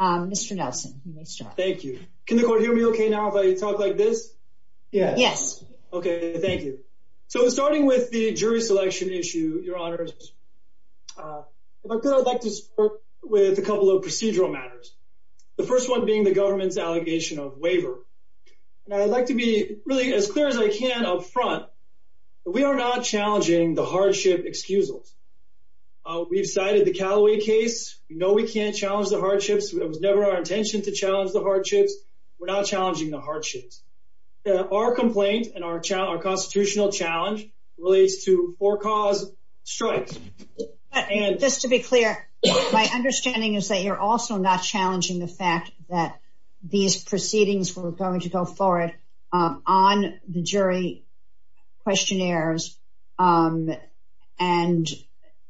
Mr. Nelson, nice job. Thank you. Can the court hear me okay now if I talk like this? Yes. Okay, thank you. So starting with the jury selection issue, your honors, if I could, I'd like to start with a couple of procedural matters. The first one being the government's allegation of waiver. And I'd like to be really as clear as I can up front. We are not challenging the hardship excusals. We've cited the Callaway case. No, we can't challenge the hardships. It was never our intention to challenge the hardships. We're not challenging the hardships. Our complaint and our constitutional challenge relates to four cause strikes. Just to be clear, my understanding is that you're also not challenging the fact that these proceedings were going to go forward on the jury. Questionnaires and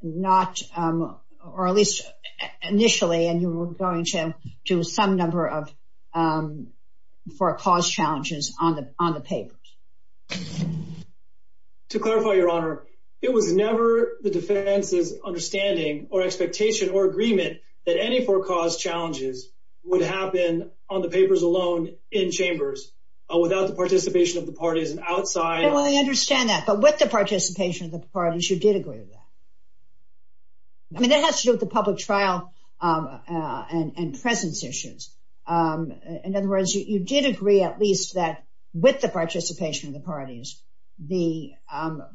not, or at least initially, and you were going to do some number of for a cause challenges on the on the papers. To clarify your honor, it was never the defense's understanding or expectation or agreement that any four cause challenges would happen on the papers alone in chambers without the participation of the parties outside. Well, I understand that. But with the participation of the parties, you did agree to that. I mean, it has to do with the public trial and presence issues. In other words, you did agree, at least that with the participation of the parties, the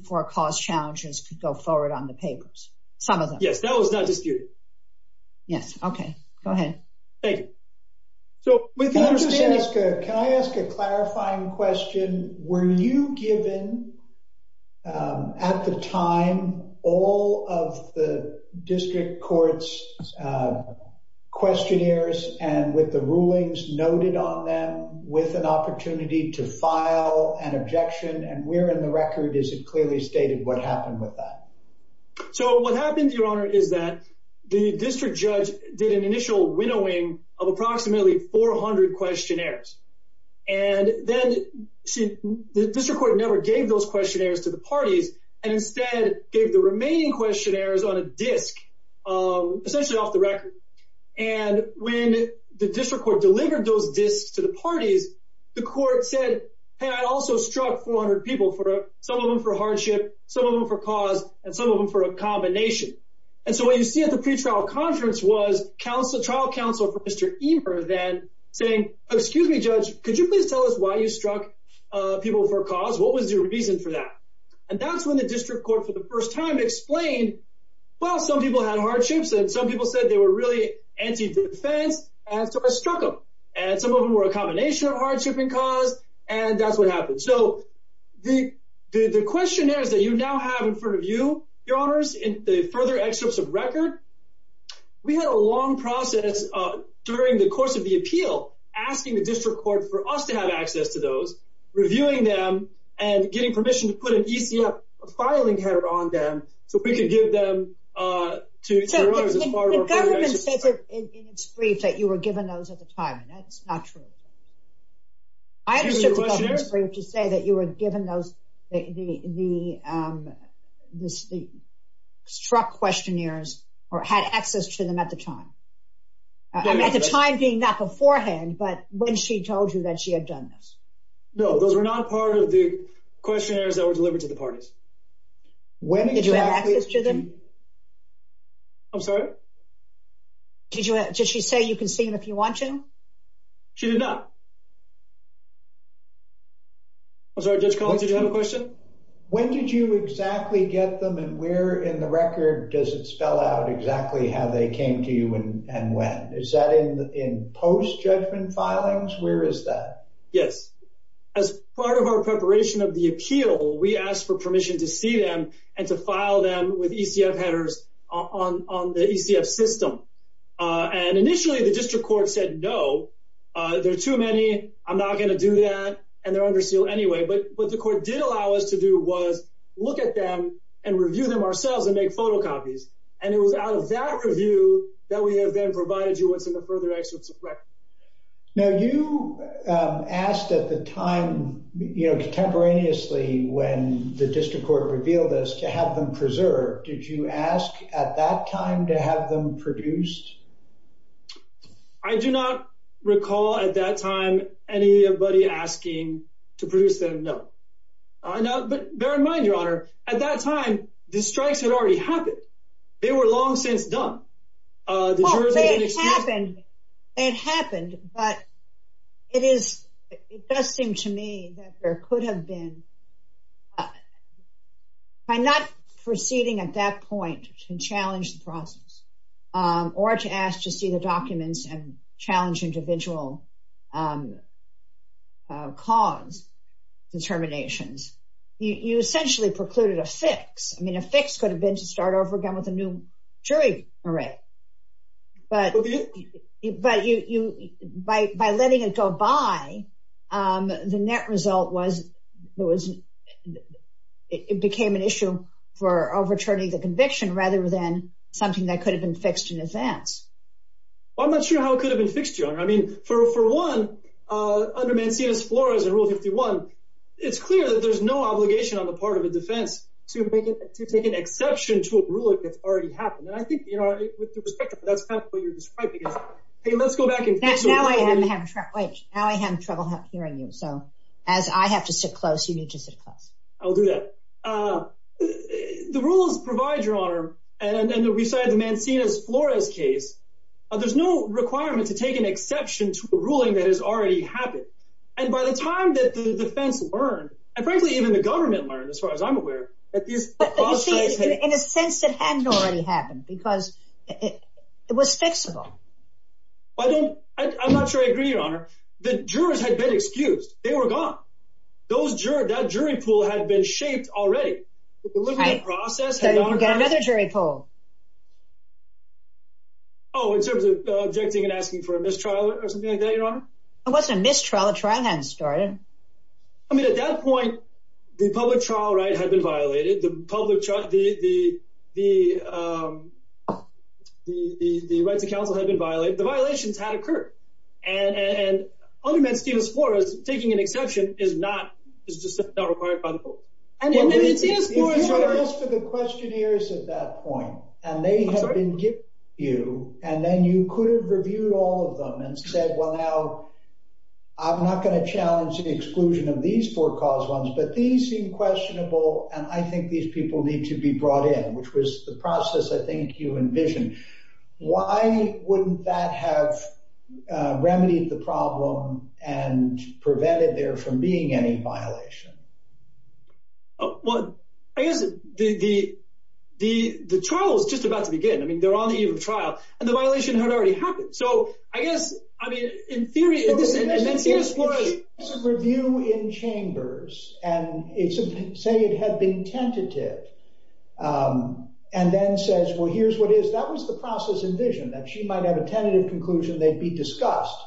four cause challenges could go forward on the papers. Some of them. Yeah, that was not the case. Yes. Okay. Go ahead. Hey, so can I ask a clarifying question? Were you given at the time, all of the district courts questionnaires and with the rulings noted on them with an opportunity to file an objection and where in the record is it clearly stated what happened with that? So what happened, your honor, is that the district judge did an initial winnowing of approximately 400 questionnaires. And then the district court never gave those questionnaires to the parties and instead gave the remaining questionnaires on a disk, essentially off the record. And when the district court delivered those disks to the parties, the court said, hey, I also struck 400 people, some of them for hardship, some of them for cause, and some of them for a combination. And so what you see at the pre-trial conference was trial counsel for Mr. Eber then saying, excuse me, judge, could you please tell us why you struck people for cause? What was your reason for that? And that's when the district court for the first time explained, well, some people had hardships and some people said they were really anti-defense, and so I struck them. And some of them were a combination of hardship and cause, and that's what happened. So the questionnaires that you now have in front of you, your honors, in the further excerpts of record, we had a long process during the course of the appeal, asking the district court for us to have access to those, reviewing them, and getting permission to put an ETF filing card on them so we could give them to the smaller parties. I understand that you were given those at the time. That's not true. I understand that you were given those, the struck questionnaires or had access to them at the time, at the time being not beforehand, but when she told you that she had done this. No, those are not part of the questionnaires that were delivered to the parties. When did you have access to them? I'm sorry? Did she say you can see them if you want to? She did not. I'm sorry, Judge Cole, did you have a question? When did you exactly get them and where in the record does it spell out exactly how they came to you and when? Is that in post-judgment filings? Where is that? Yes. As part of our preparation of the appeal, we asked for permission to see them and to file them with ETF headers on the ETF system. And initially, the district court said no, there are too many, I'm not going to do that, and they're under seal anyway. But what the court did allow us to do was look at them and review them ourselves and make photocopies. And it was out of that review that we have been provided you with the further access to records. Now, you asked at the time, you know, contemporaneously when the district court revealed this, to have them preserved. Did you ask at that time to have them produced? I do not recall at that time anybody asking to produce them, no. But bear in mind, Your Honor, at that time, the strikes had already happened. They were long since done. It happened, but it does seem to me that there could have been, by not proceeding at that point to challenge the process, or to ask to see the documents and challenge individual cause determinations, you essentially precluded a fix. I mean, a fix could have been to start over again with a new jury array. But by letting it go by, the net result was, it became an issue for overturning the conviction rather than something that could have been fixed in a sense. I'm not sure how it could have been fixed, Joan. I mean, for one, under Mancina's florals in Rule 51, it's clear that there's no obligation on the part of the defense to make an exception to a rule if it's already happened. And I think, you know, with the perspective of what you're describing, let's go back and fix the rule. Now I have trouble hearing you. So, as I have to sit close, you need to sit close. I'll do that. The rules provide, Your Honor, and we cited Mancina's florals case, there's no requirement to take an exception to a ruling that has already happened. And by the time that the defense learned, and frankly, even the government learned, as far as I'm aware, that this caused great pain. But you see, in a sense, it hadn't already happened, because it was fixable. I don't, I'm not sure I agree, Your Honor. The jurors had been excused. They were gone. Those jurors, that jury pool had been shaped already. Right, but there was another jury pool. Oh, in terms of objecting and asking for a mistrial or something like that, Your Honor? It wasn't a mistrial. A trial hadn't started. I mean, at that point, the public trial right had been violated. The public trial, the right to counsel had been violated. The violations had occurred. And, and, and, under Mancina's florals, taking an exception is not, is just not required by the court. And the rest of the questionnaires at that point, and they have been given to you, and then you could have reviewed all of them and said, well, now, I'm not going to challenge the exclusion of these four cause ones. But these seem questionable, and I think these people need to be brought in, which was the process I think you envisioned. Why wouldn't that have remedied the problem and prevented there from being any violation? Well, again, the, the, the, the trial is just about to begin. I mean, they're on the eve of trial, and the violation had already happened. So, I guess, I mean, in theory, it was an empty exploit. It's a review in chambers, and it's, say it had been tentative, and then says, well, here's what it is. That was the process envisioned, that she might have a tentative conclusion, they'd be discussed.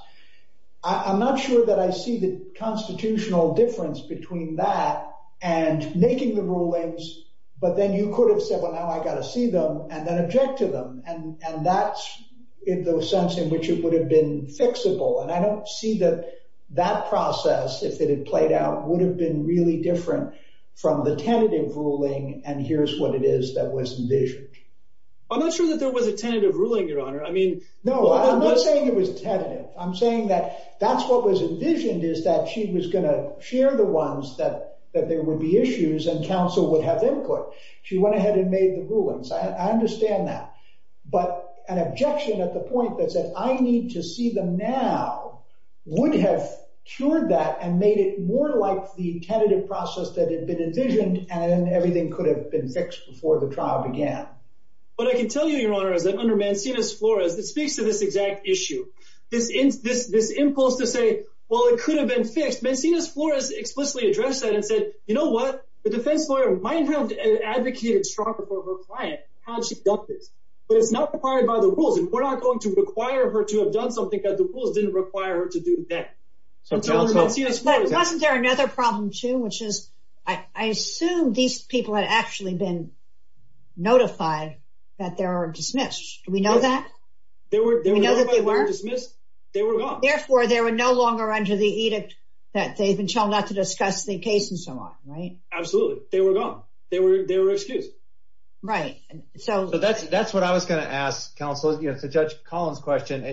I'm not sure that I see the constitutional difference between that and making the rulings, but then you could have said, well, now I've got to see them, and then object to them. And, and that's in the sense in which it would have been fixable. And I don't see that that process, if it had played out, would have been really different from the tentative ruling, and here's what it is that was envisioned. I'm not sure that there was a tentative ruling, Your Honor. I mean… No, I'm not saying it was tentative. I'm saying that that's what was envisioned, is that she was going to share the ones that, that there would be issues, and counsel would have input. She went ahead and made the rulings. I understand that. But an objection at the point that said, I need to see them now, would have cured that, and made it more like the tentative process that had been envisioned, and everything could have been fixed before the trial began. But I can tell you, Your Honor, that under Mancinius Flores, it speaks to this exact issue, this impulse to say, well, it could have been fixed. Mancinius Flores explicitly addressed that and said, you know what? The defense lawyer might have advocated strongly for her client, how she dealt with it, but it's not required by the rules, and we're not going to require her to have done something that the rules didn't require her to do next. But wasn't there another problem, too, which is, I assume these people had actually been notified that they were dismissed. Do we know that? They were dismissed. They were gone. Therefore, they were no longer under the edict that they've been shown not to discuss the case and so on, right? Absolutely. They were gone. They were excused. Right. So that's what I was going to ask, counsel. To Judge Collins' question,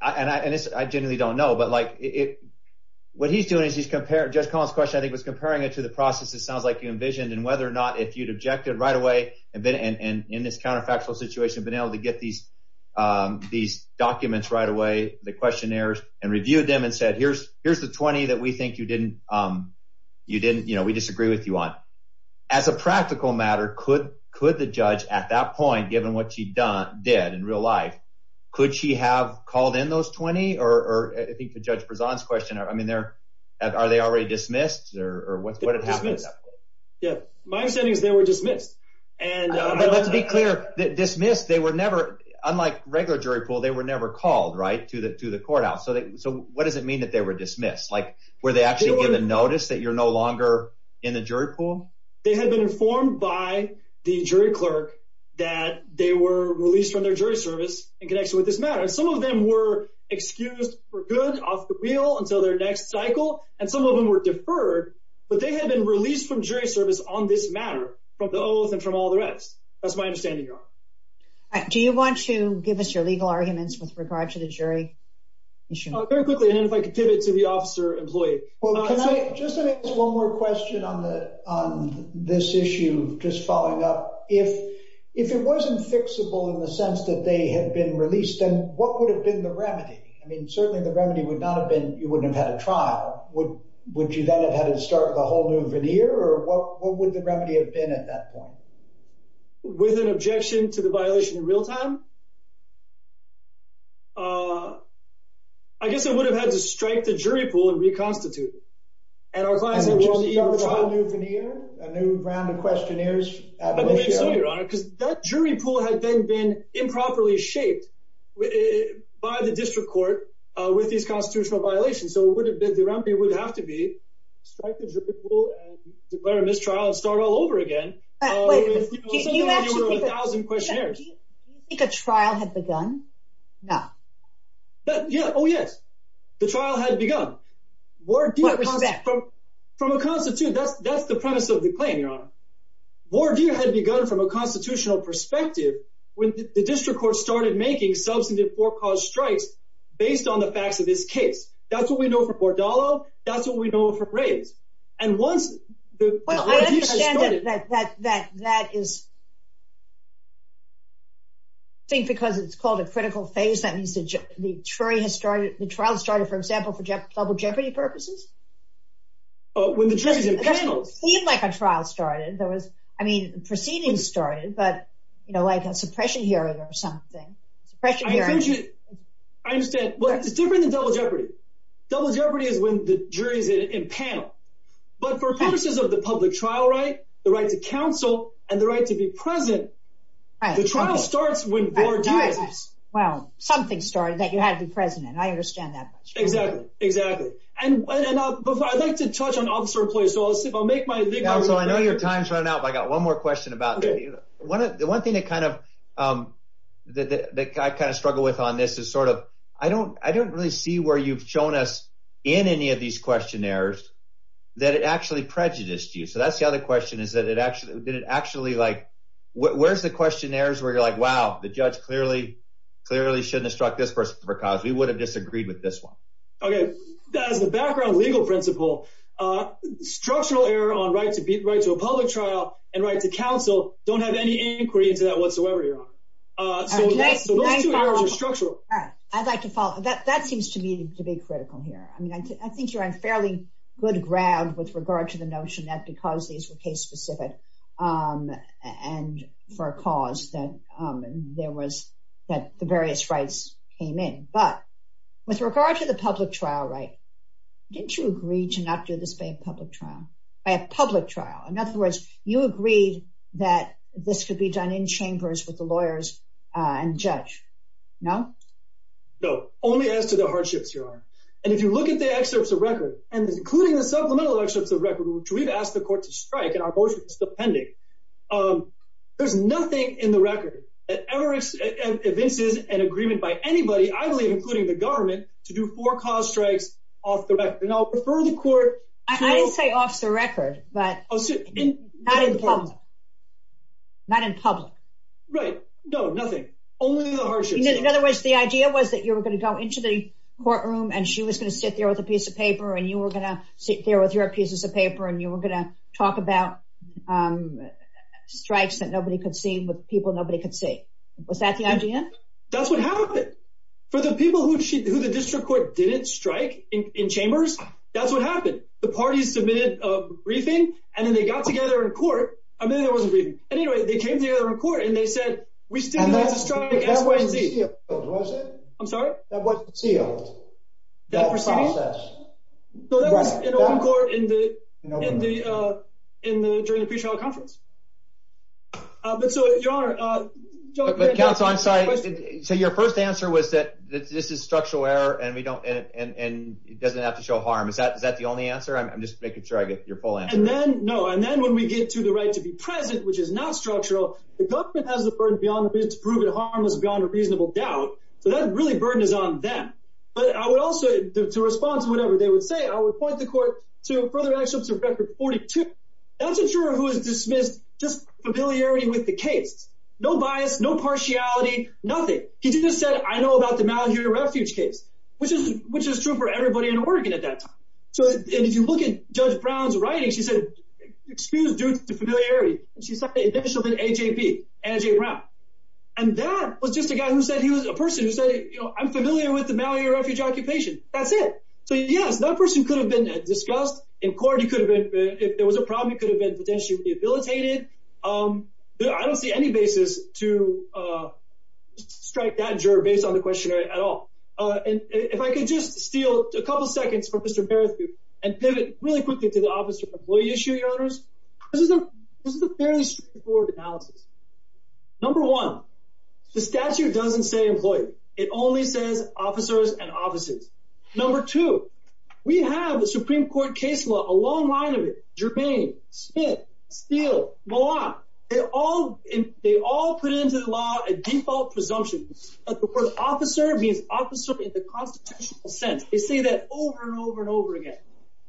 and I genuinely don't know, but what he's doing is he's comparing – Judge Collins' question, I think, was comparing it to the process it sounds like you envisioned, and whether or not if you'd objected right away, and in this counterfactual situation been able to get these documents right away, the questionnaires, and reviewed them and said, here's the 20 that we think you didn't – we disagree with you on. As a practical matter, could the judge at that point, given what she did in real life, could she have called in those 20? Or I think to Judge Prezant's question, I mean, are they already dismissed, or what happened at that point? Yeah. My understanding is they were dismissed. But let's be clear. Dismissed, they were never – unlike regular jury pool, they were never called, right, to the courthouse. So what does it mean that they were dismissed? Like, were they actually given notice that you're no longer in the jury pool? They had been informed by the jury clerk that they were released from their jury service in connection with this matter. Some of them were excused for good, off the wheel, until their next cycle, and some of them were deferred, but they had been released from jury service on this matter, from those and from all the rest. That's my understanding, Your Honor. Do you want to give us your legal arguments with regard to the jury issue? Very quickly, and if I could tip it to the officer employee. Can I just ask one more question on this issue, just following up? If it wasn't fixable in the sense that they had been released, then what would have been the remedy? I mean, certainly the remedy would not have been you wouldn't have had a trial. Would you then have had to start the whole new veneer, or what would the remedy have been at that point? With an objection to the violation in real time? I guess I would have had to strike the jury pool and reconstitute it. A new veneer? A new round of questionnaires? Absolutely, Your Honor, because that jury pool has then been improperly shaped by the district court with these constitutional violations, so the remedy would have to be strike the jury pool and declare a mistrial and start all over again. Do you think a trial had begun? No. Oh, yes, the trial had begun. From a constitutional, that's the premise of the claim, Your Honor. Wardeer had begun from a constitutional perspective when the district court started making substantive forecaused strikes based on the fact that it's taped. That's what we know for Bordallo, that's what we know for Graves. Well, I understand that that is, I think because it's called a critical phase, that means the jury has started, the trial started, for example, for double jeopardy purposes? It doesn't seem like a trial started. I mean, proceedings started, but like a suppression hearing or something. I understand. Well, it's different than double jeopardy. Double jeopardy is when the jury is in panel. But for purposes of the public trial right, the right to counsel, and the right to be present, the trial starts when Bordallo is. Well, something started that you have to be present in. I understand that. Exactly, exactly. And I'd like to touch on officer-employee, so I'll make my statement. Counsel, I know your time's running out, but I got one more question about that. One thing that I kind of struggle with on this is sort of, I don't really see where you've shown us in any of these questionnaires that it actually prejudiced you. So that's the other question, is that it actually, like, where's the questionnaires where you're like, wow, the judge clearly shouldn't have struck this person for cause. We would have disagreed with this one. Okay. As a background legal principle, structural error on right to a public trial and right to counsel don't have any inquiry into that whatsoever, Your Honor. All right. I'd like to follow up. That seems to me to be critical here. I mean, I think you're on fairly good ground with regard to the notion that because these were case-specific and for a cause that there was, that the various rights came in. But with regard to the public trial right, didn't you agree to not do the same public trial? A public trial. In other words, you agreed that this should be done in chambers with the lawyers and judge. No? No. Only as to the hardships, Your Honor. And if you look at the excerpts of record, and including the supplemental excerpts of record, which we've asked the court to strike, and our voice is still pending, there's nothing in the record that ever has evinced an agreement by anybody, I believe including the government, to do four cause strikes off the record. I didn't say off the record, but not in public. Right. No, nothing. Only in the hardship. In other words, the idea was that you were going to go into the courtroom and she was going to sit there with a piece of paper and you were going to sit there with your pieces of paper and you were going to talk about strikes that nobody could see with people nobody could see. Was that the idea? That's what happened. For the people who the district court didn't strike in chambers, that's what happened. The parties submitted a briefing, and then they got together in court, and then there wasn't a briefing. Anyway, they came together in court and they said, we still haven't struck a case. I'm sorry? So your first answer was that this is structural error, and it doesn't have to show harm. Is that the only answer? I'm just making sure I get your full answer. No. And then when we get to the right to be present, which is not structural, the government has the burden beyond the business to prove it harmless beyond a reasonable doubt. So that really burdened on them. But I would also, to respond to whatever they would say, I would point the court to further actions to record 42. That's a juror who has dismissed just familiarity with the case. No bias, no partiality, nothing. He didn't say, I know about the Mountain View Refuge case, which is true for everybody in Oregon at that time. So if you look at Judge Brown's writing, she said, excuse due to familiarity. She's not the official to AJP, AJ Brown. And that was just a guy who said, he was a person who said, I'm familiar with the Mountain View Refuge occupation. That's it. So yeah, that person could have been discussed in court. If there was a problem, it could have been potentially debilitated. I don't see any basis to strike that juror based on the questionnaire at all. And if I could just steal a couple of seconds from Mr. Barrister and pivot really quickly to the Office of Employee Issue Owners. This is a fairly straightforward analysis. Number one, the statute doesn't say employees. It only says officers and offices. Number two, we have a Supreme Court case law, a long line of it.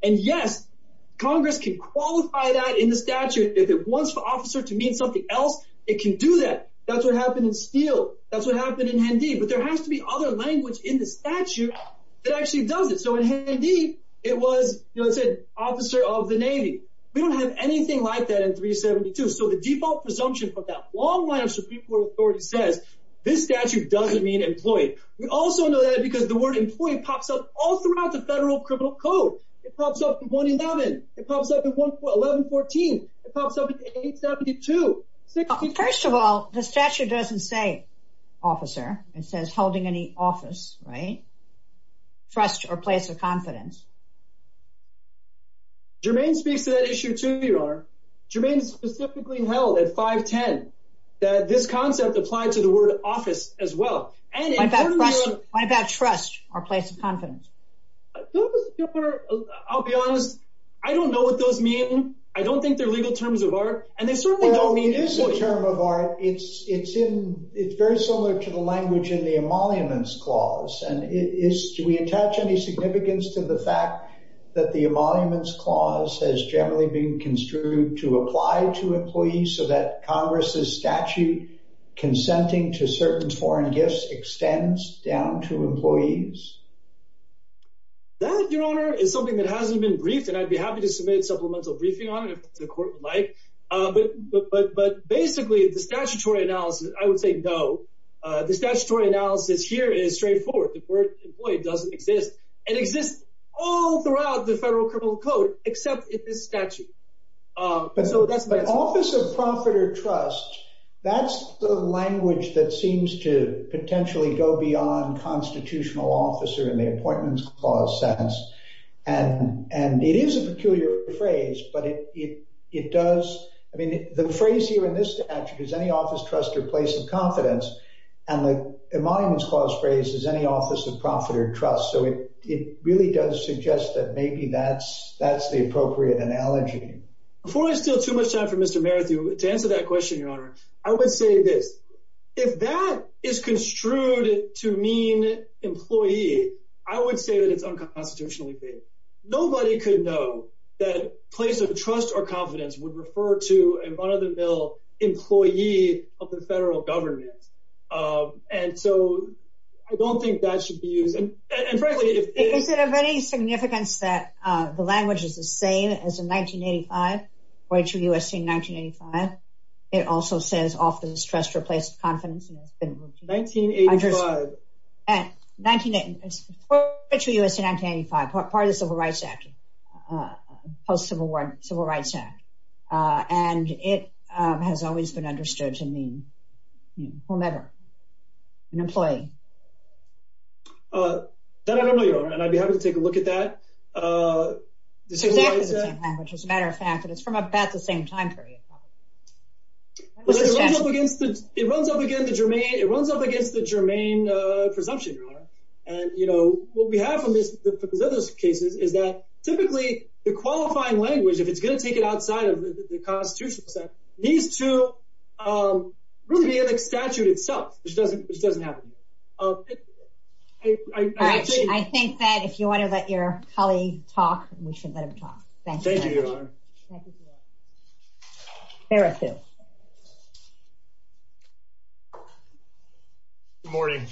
And yes, Congress can qualify that in the statute. If it wants the officer to mean something else, it can do that. That's what happened in Steele. That's what happened in Handy. But there has to be other language in the statute that actually does it. So in Handy, it was, you know, it said officer of the Navy. We don't have anything like that in 372. So the default presumption for that long line of Supreme Court authority says, this statute doesn't mean employee. We also know that because the word employee pops up all throughout the federal criminal code. It pops up in 11. It pops up in 1114. It pops up in 872. First of all, the statute doesn't say officer. It says holding any office, right? Trust or place of confidence. Jermaine speaks to that issue too, Your Honor. Jermaine specifically held at 510 that this concept applies to the word office as well. What about trust or place of confidence? I'll be honest. I don't know what those mean. I don't think they're legal terms of art. That, Your Honor, is something that hasn't been briefed, and I'd be happy to submit a supplemental briefing on it if the court would like. But basically, the statutory analysis, I would say no. The statutory analysis here is straightforward. The word employee doesn't exist. It exists all throughout the federal criminal code, except in this statute. But office of profit or trust, that's the language that seems to potentially go beyond constitutional officer in the appointments clause sense. And it is a peculiar phrase, but it does. I mean, the phrase here in this statute is any office, trust, or place of confidence. And the appointments clause phrase is any office of profit or trust, so it really does suggest that maybe that's the appropriate analogy. Before I steal too much time from Mr. Merritt to answer that question, Your Honor, I would say that if that is construed to mean employee, I would say that it's unconstitutionally based. Nobody could know that place of trust or confidence would refer to a run-of-the-mill employee of the federal government. And so I don't think that should be, and frankly, Is there any significance that the language is the same as in 1985, 42 U.S.C. 1985? It also says office, trust, or place of confidence. 1985. Yes. 42 U.S.C. 1985, part of the Civil Rights Act, post-Civil War Civil Rights Act. And it has always been understood to mean, well, never, an employee. That I don't know, Your Honor, and I'd be happy to take a look at that. The Civil Rights Act? As a matter of fact, it's from about the same time period. It runs up against the germane presumption, Your Honor. And, you know, what we have in this case is that typically the qualifying language, if it's going to take it outside of the Constitution, needs to really be in the statute itself, which doesn't happen. I think that if you want to let your colleague talk, we should let him talk. Thank you, Your Honor. Fair action. Good morning.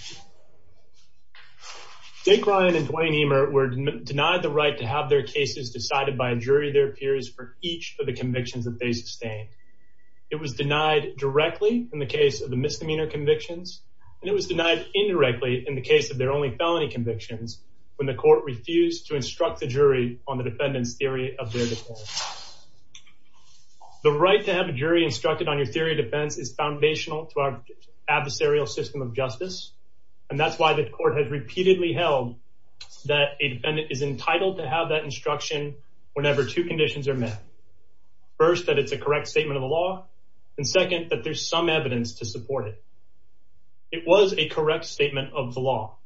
Jake Ryan and Dwayne Emert were denied the right to have their cases decided by a jury of their peers for each of the convictions that they sustained. It was denied directly in the case of the misdemeanor convictions, and it was denied indirectly in the case of their only felony convictions when the court refused to instruct the jury on the defendant's theory of their default. The right to have a jury instructed on your theory of defense is foundational to our adversarial system of justice, and that's why this court has repeatedly held that a defendant is entitled to have that instruction whenever two conditions are met. First, that it's a correct statement of the law, and second, that there's some evidence to support it. It was a correct statement of the law.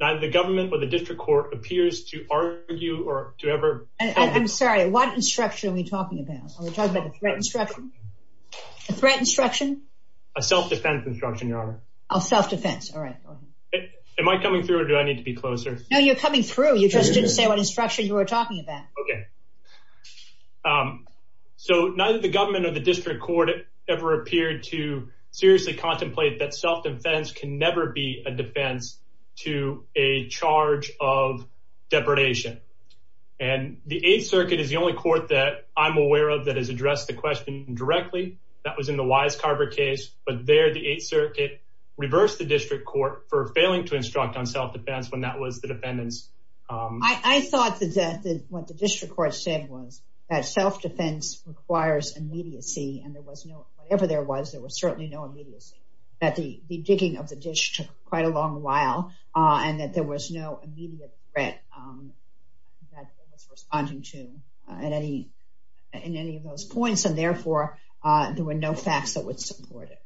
Neither the government nor the district court appears to argue or to ever— I'm sorry, what instruction are we talking about? Are we talking about a threat instruction? A threat instruction? A self-defense instruction, Your Honor. Oh, self-defense. All right. Am I coming through, or do I need to be closer? No, you're coming through. You just didn't say what instruction you were talking about. Okay. So, neither the government nor the district court ever appeared to seriously contemplate that self-defense can never be a defense to a charge of depredation. And the Eighth Circuit is the only court that I'm aware of that has addressed the question directly. That was in the Wisecarver case, but there the Eighth Circuit reversed the district court for failing to instruct on self-defense when that was the defendant's— I thought that what the district court said was that self-defense requires immediacy, and there was no—whatever there was, there was certainly no immediacy. That the digging of the ditch took quite a long while, and that there was no immediate threat that it was responding to in any of those points, and therefore, there were no facts that would support it.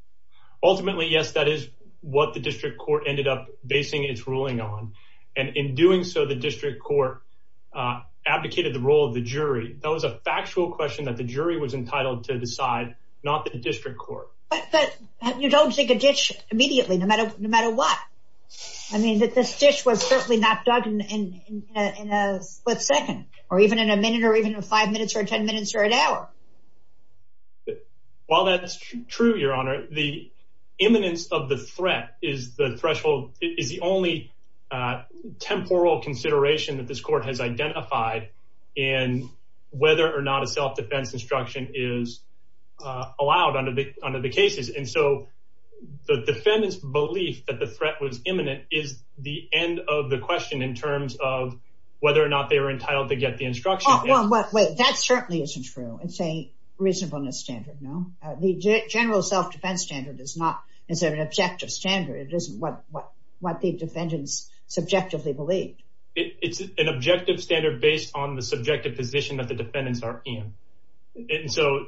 Ultimately, yes, that is what the district court ended up basing its ruling on. And in doing so, the district court advocated the role of the jury. That was a factual question that the jury was entitled to decide, not the district court. But you don't dig a ditch immediately, no matter what. I mean, this ditch was certainly mapped out in a split second, or even in a minute, or even in five minutes, or ten minutes, or an hour. While that's true, Your Honor, the imminence of the threat is the threshold—is the only temporal consideration that this court has identified in whether or not a self-defense instruction is allowed under the case. And so the defendant's belief that the threat was imminent is the end of the question in terms of whether or not they were entitled to get the instruction. Well, wait, that certainly isn't true. It's a reasonableness standard, no? The general self-defense standard is an objective standard. It isn't what the defendants subjectively believe. It's an objective standard based on the subjective position that the defendants are in. And so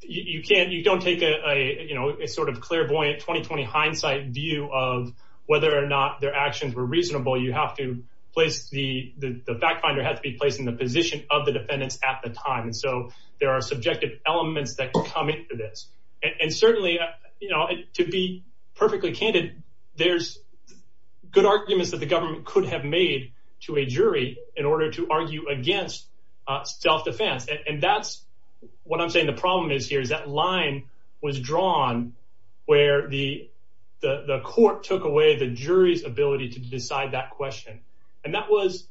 you can't—you don't take a, you know, a sort of clairvoyant, 20-20 hindsight view of whether or not their actions were reasonable. You have to place the—the fact finder has to be placed in the position of the defendants at the time. And so there are subjective elements that come into this. And certainly, you know, to be perfectly candid, there's good arguments that the government could have made to a jury in order to argue against self-defense. And that's what I'm saying the problem is here, is that line was drawn where the court took away the jury's ability to decide that question. And that was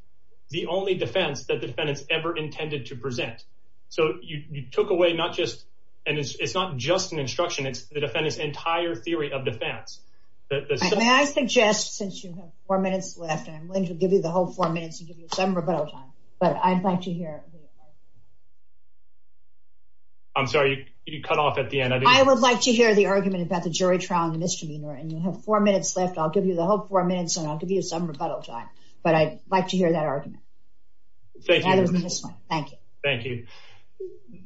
the only defense that defendants ever intended to present. So you took away not just—and it's not just an instruction, it's the defendants' entire theory of defense. May I suggest, since you have four minutes left, and I'm willing to give you the whole four minutes and give you some rebuttal time, but I'd like to hear it. I'm sorry, you cut off at the end. I would like to hear the argument about the jury trial and the misdemeanor, and you have four minutes left. I'll give you the whole four minutes and I'll give you some rebuttal time. But I'd like to hear that argument. Thank you. Thank you. Thank you.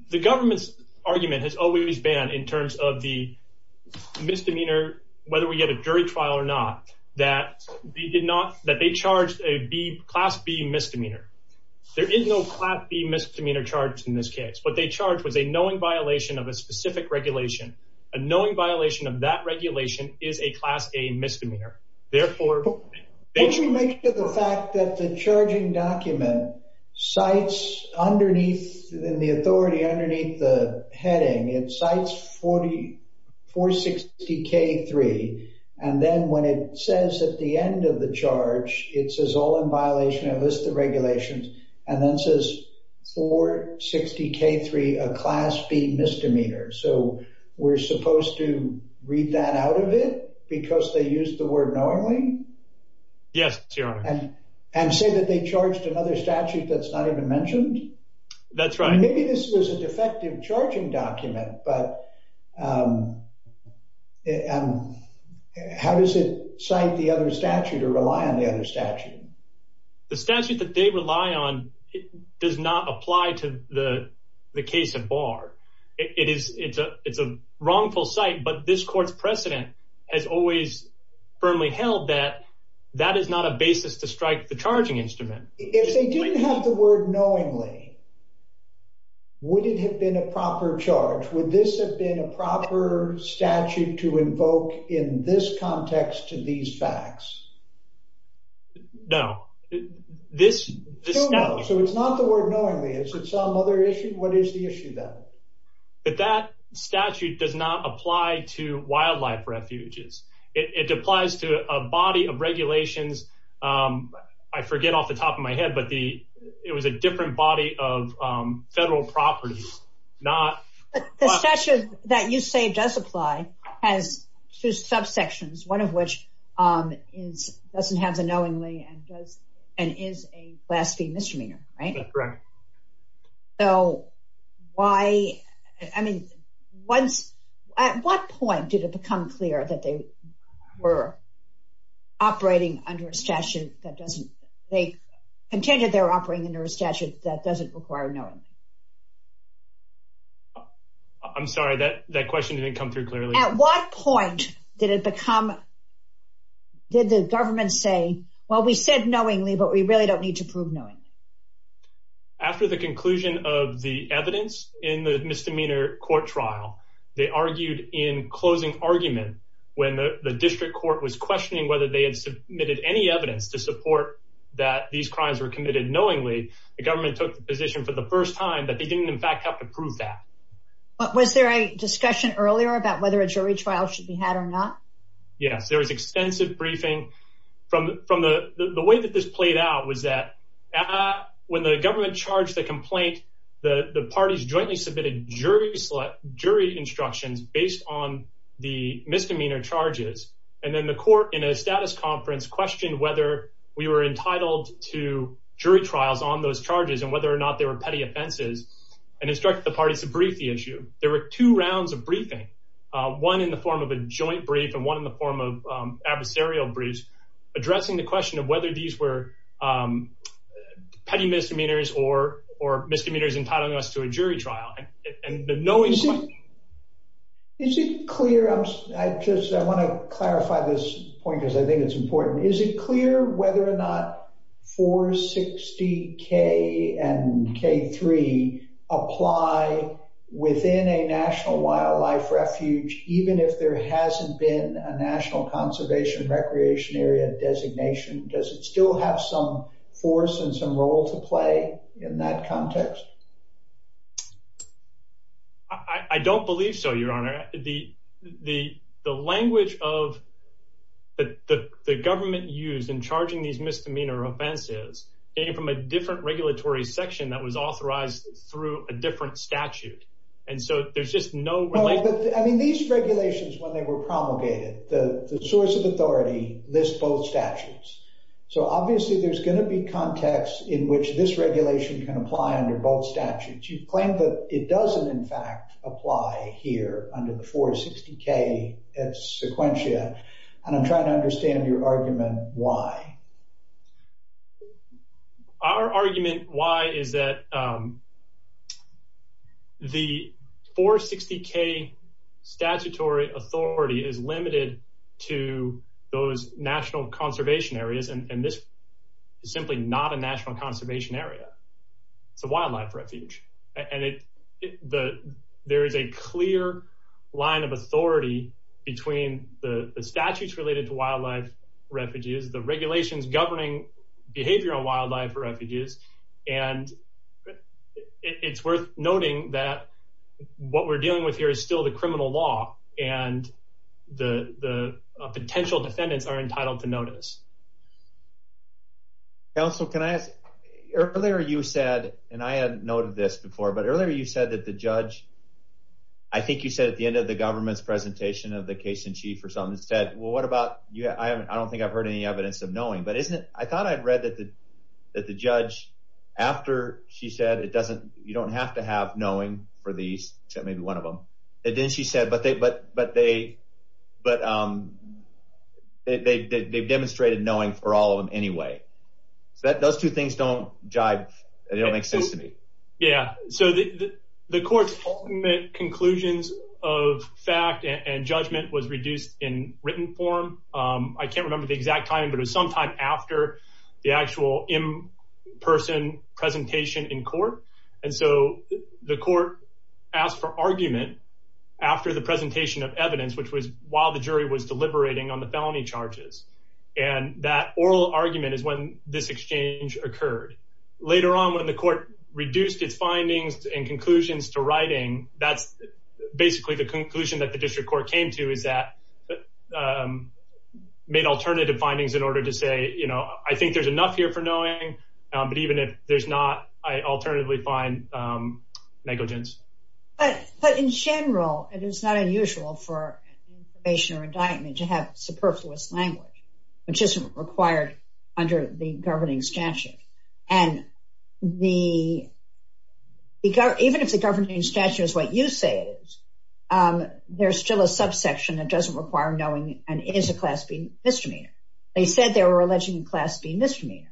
The government's argument has always been, in terms of the misdemeanor, whether we get a jury trial or not, that they did not—that they charged a class B misdemeanor. There is no class B misdemeanor charged in this case, but they charged with a knowing violation of a specific regulation. A knowing violation of that regulation is a class A misdemeanor. Therefore— In relation to the fact that the charging document cites underneath—in the authority underneath the heading, it cites 460-K-3, and then when it says at the end of the charge, it says all in violation of this regulation, and then says 460-K-3, a class B misdemeanor. So we're supposed to read that out of it because they used the word knowingly? Yes, Your Honor. And say that they charged another statute that's not even mentioned? That's right. Maybe this was a defective charging document, but how does it cite the other statute or rely on the other statute? The statute that they rely on does not apply to the case of Barr. It is—it's a—it's a wrongful cite, but this Court's precedent has always firmly held that that is not a basis to strike the charging instrument. If they didn't have the word knowingly, would it have been a proper charge? Would this have been a proper statute to invoke in this context to these facts? No. So it's not the word knowingly. Is it some other issue? What is the issue, then? That statute does not apply to wildlife refuges. It applies to a body of regulations—I forget off the top of my head, but it was a different body of federal properties, not— But the statute that you say does apply has two subsections, one of which is—doesn't have the knowingly and does—and is a class B misdemeanor, right? That's correct. So why—I mean, once—at what point did it become clear that they were operating under a statute that doesn't—they contended they were operating under a statute that doesn't require knowingly? I'm sorry, that question didn't come through clearly. At what point did it become—did the government say, well, we said knowingly, but we really don't need to prove knowingly? After the conclusion of the evidence in the misdemeanor court trial, they argued in closing argument when the district court was questioning whether they had submitted any evidence to support that these crimes were committed knowingly, the government took the position for the first time that they didn't, in fact, have to prove that. But was there a discussion earlier about whether a jury trial should be had or not? Yes, there was extensive briefing from—the way that this played out was that when the government charged the complaint, the parties jointly submitted jury instructions based on the misdemeanor charges. And then the court, in a status conference, questioned whether we were entitled to jury trials on those charges and whether or not they were petty offenses and instructed the parties to brief the issue. There were two rounds of briefing, one in the form of a joint brief and one in the form of adversarial briefs, addressing the question of whether these were petty misdemeanors or misdemeanors entitling us to a jury trial. Is it clear—I want to clarify this point because I think it's important—is it clear whether or not 460K and K-3 apply within a National Wildlife Refuge even if there hasn't been a National Conservation and Recreation Area designation? Does it still have some force and some role to play in that context? I don't believe so, Your Honor. The language of the government used in charging these misdemeanor offenses came from a different regulatory section that was authorized through a different statute. And so there's just no— I mean, these regulations, when they were promulgated, the source of authority lists both statutes. So obviously there's going to be context in which this regulation can apply under both statutes. You claim that it doesn't, in fact, apply here under the 460K at Sequentia, and I'm trying to understand your argument why. Our argument why is that the 460K statutory authority is limited to those National Conservation Areas, and this is simply not a National Conservation Area. It's a wildlife refuge, and there is a clear line of authority between the statutes related to wildlife refuges, the regulations governing behavioral wildlife refuges, and it's worth noting that what we're dealing with here is still the criminal law, and the potential defendants are entitled to notice. Counsel, can I—earlier you said, and I hadn't noted this before, but earlier you said that the judge—I think you said at the end of the government's presentation of the case in chief or something—said, well, what about—I don't think I've heard any evidence of knowing. Those two things don't make sense to me. Yeah. The court's ultimate conclusions of fact and judgment was reduced in written form. I can't remember the exact time, but it was sometime after the actual in-person presentation in court, and so the court asked for argument after the presentation of evidence, which was while the jury was deliberating on the felony charges, and that oral argument is when this exchange occurred. And later on when the court reduced its findings and conclusions to writing, that's basically the conclusion that the district court came to is that—made alternative findings in order to say, you know, I think there's enough here for knowing, but even if there's not, I alternatively find negligence. But in general, it is not unusual for information or indictment to have superfluous language, which isn't required under the governing statute. And even if the governing statute is what you say it is, there's still a subsection that doesn't require knowing, and it is a class B misdemeanor. They said they were alleging class B misdemeanor.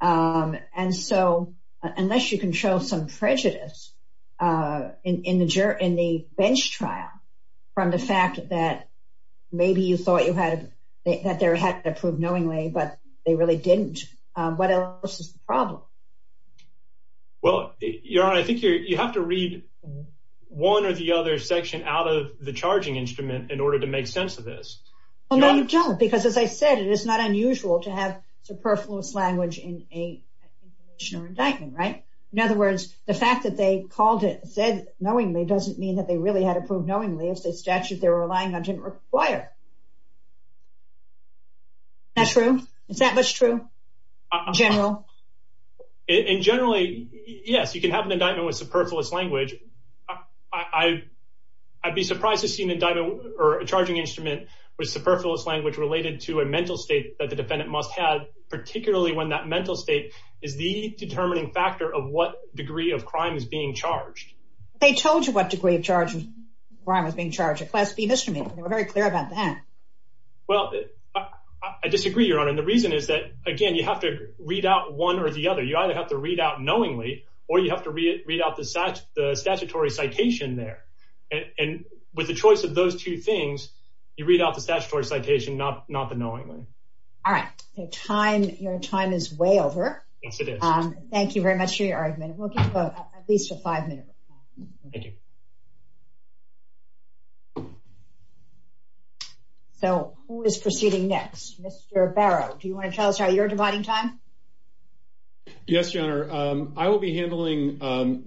And so unless you can show some prejudice in the bench trial from the fact that maybe you thought you had—that they had to prove knowingly, but they really didn't, what else is the problem? Well, Your Honor, I think you have to read one or the other section out of the charging instrument in order to make sense of this. Well, no, you don't, because as I said, it is not unusual to have superfluous language in an information or indictment, right? In other words, the fact that they called it—said knowingly doesn't mean that they really had to prove knowingly if the statute they were relying on didn't require it. Is that true? Is that much true in general? In general, yes, you can have an indictment with superfluous language. I'd be surprised to see an indictment or a charging instrument with superfluous language related to a mental state that the defendant must have, particularly when that mental state is the determining factor of what degree of crime is being charged. They told you what degree of crime is being charged, a class B misdemeanor. They were very clear about that. Well, I disagree, Your Honor, and the reason is that, again, you have to read out one or the other. You either have to read out knowingly or you have to read out the statutory citation there. And with the choice of those two things, you read out the statutory citation, not the knowingly. All right. Your time is way over. Thank you very much for your argument. We'll give at least five minutes. Thank you. So who is proceeding next? Mr. Barrow, do you want to tell us how you're dividing time? Yes, Your Honor, I will be handling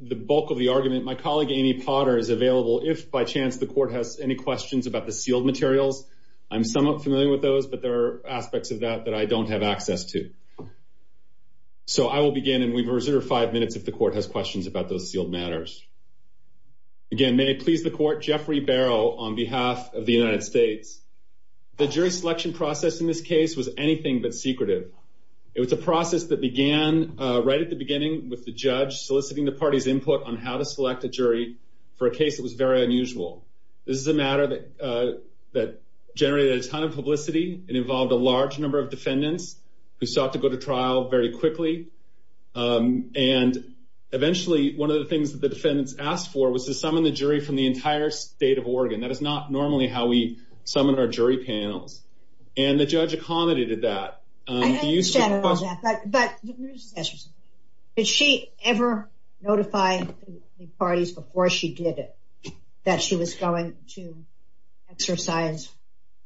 the bulk of the argument. My colleague, Amy Potter, is available if, by chance, the court has any questions about the sealed materials. I'm somewhat familiar with those, but there are aspects of that that I don't have access to. So I will begin and we reserve five minutes if the court has questions about those sealed matters. Again, may it please the Court, Jeffrey Barrow on behalf of the United States. The jury selection process in this case was anything but secretive. It was a process that began right at the beginning with the judge soliciting the party's input on how to select a jury for a case that was very unusual. This is a matter that generated a ton of publicity. It involved a large number of defendants who sought to go to trial very quickly. And eventually, one of the things that the defendants asked for was to summon the jury from the entire state of Oregon. That is not normally how we summon our jury panels. And the judge accommodated that. I understand all that, but did she ever notify the parties before she did it that she was going to exercise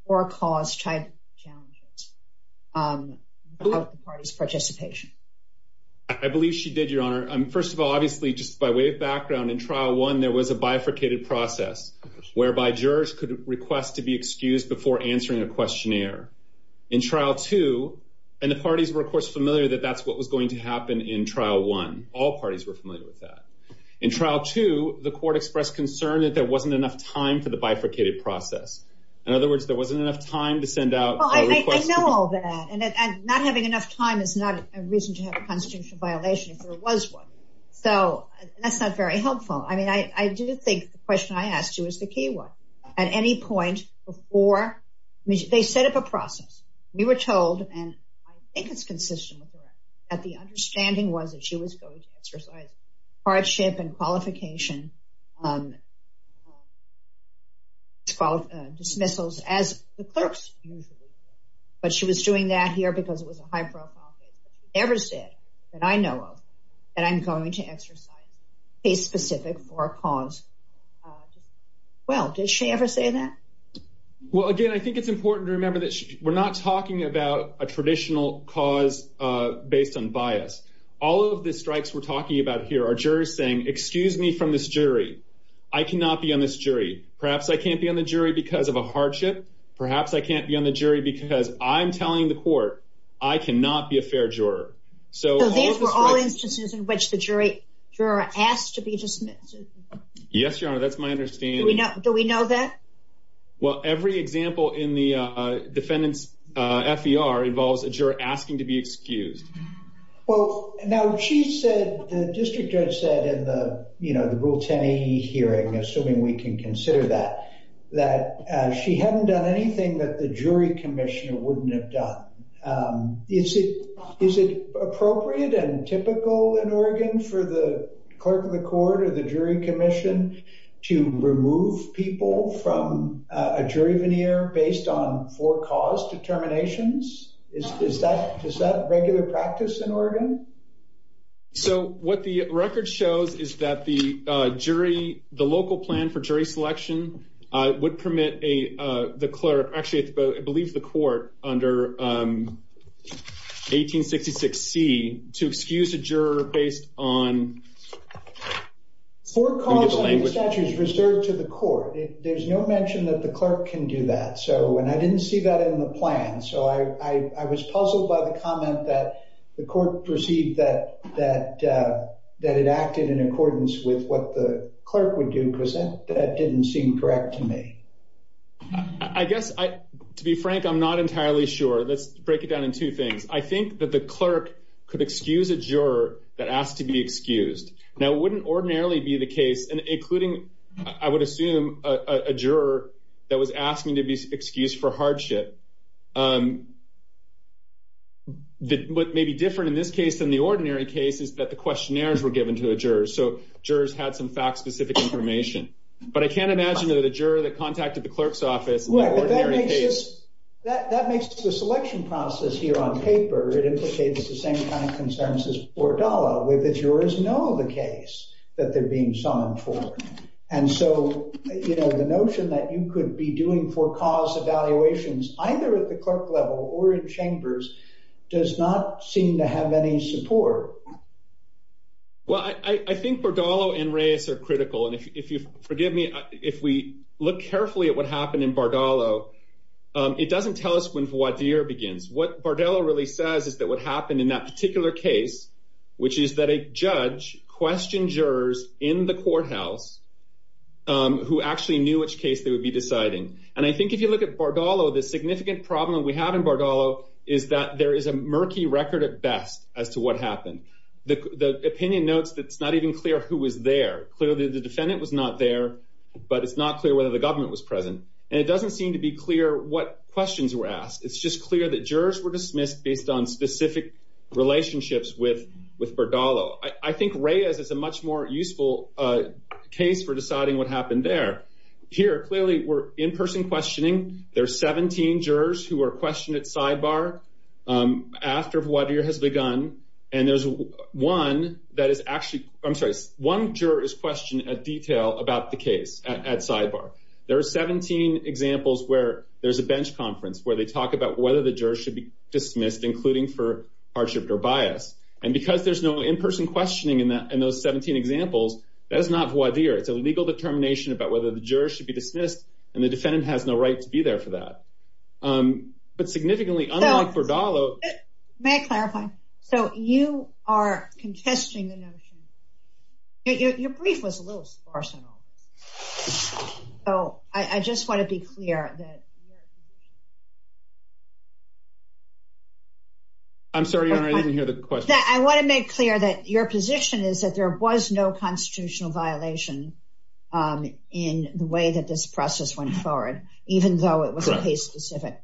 or cause child challenges without the party's participation? I believe she did, Your Honor. First of all, obviously, just by way of background, in Trial 1, there was a bifurcated process whereby jurors could request to be excused before answering a questionnaire. In Trial 2, and the parties were, of course, familiar that that's what was going to happen in Trial 1. All parties were familiar with that. In Trial 2, the court expressed concern that there wasn't enough time for the bifurcated process. In other words, there wasn't enough time to send out a request. Well, I know all that. And not having enough time is not a reason to have a constitutional violation if there was one. So that's not very helpful. I mean, I do think the question I asked you is the key one. At any point before they set up a process, we were told, and I think it's consistent with her, that the understanding was that she was going to exercise hardship and qualification dismissals as the clerk's duty. But she was doing that here because it was a high-profile case. She never said that I know of that I'm going to exercise case-specific or cause-based bias. Well, does she ever say that? Well, again, I think it's important to remember that we're not talking about a traditional cause based on bias. All of the strikes we're talking about here are jurors saying, excuse me from this jury. I cannot be on this jury. Perhaps I can't be on the jury because of a hardship. Perhaps I can't be on the jury because I'm telling the court I cannot be a fair juror. So these were all instances in which the juror asked to be dismissed? Yes, Your Honor. That's my understanding. Do we know that? Well, every example in the defendant's FER involves a juror asking to be excused. Well, now she said, the district judge said in the Rule 10A hearing, assuming we can consider that, that she hadn't done anything that the jury commissioner wouldn't have done. Is it appropriate and typical in Oregon for the court of the jury commission to remove people from a jury veneer based on for-cause determinations? Is that regular practice in Oregon? So what the record shows is that the jury, the local plan for jury selection would permit the clerk, actually I believe the court under 1866C, to excuse a juror based on- For-cause statutes reserved to the court. There's no mention that the clerk can do that. And I didn't see that in the plan. So I was puzzled by the comment that the court perceived that it acted in accordance with what the clerk would do, because that didn't seem correct to me. I guess, to be frank, I'm not entirely sure. Let's break it down in two things. I think that the clerk could excuse a juror that asked to be excused. Now, it wouldn't ordinarily be the case, including, I would assume, a juror that was asking to be excused for hardship. What may be different in this case than the ordinary case is that the questionnaires were given to the jurors, so jurors had some fact-specific information. But I can't imagine that a juror that contacted the clerk's office- That makes the selection process here on paper, it indicates the same kind of consensus for Bardolo, where the jurors know the case that they're being summoned for. And so, you know, the notion that you could be doing for-cause evaluations, either at the clerk level or in chambers, does not seem to have any support. Well, I think Bardolo and Reyes are critical. And if you forgive me, if we look carefully at what happened in Bardolo, it doesn't tell us when voir dire begins. What Bardolo really says is that what happened in that particular case, which is that a judge questioned jurors in the courthouse who actually knew which case they would be deciding. And I think if you look at Bardolo, the significant problem we have in Bardolo is that there is a murky record at best as to what happened. The opinion notes that it's not even clear who was there. Clearly, the defendant was not there, but it's not clear whether the government was present. And it doesn't seem to be clear what questions were asked. It's just clear that jurors were dismissed based on specific relationships with Bardolo. I think Reyes is a much more useful case for deciding what happened there. Here, clearly, we're in-person questioning. There are 17 jurors who are questioned at sidebar after voir dire has begun. And there's one that is actually – I'm sorry. One juror is questioned at detail about the case at sidebar. There are 17 examples where there's a bench conference where they talk about whether the jurors should be dismissed, including for hardship or bias. And because there's no in-person questioning in those 17 examples, that is not voir dire. It's a legal determination about whether the jurors should be dismissed, and the defendant has no right to be there for that. But significantly, unlike Bardolo – May I clarify? So you are contesting the notion. Your brief was a little sparsely. So I just want to be clear that – I'm sorry, Your Honor. I didn't hear the question. I want to make clear that your position is that there was no constitutional violation in the way that this process went forward, even though it was a case-specific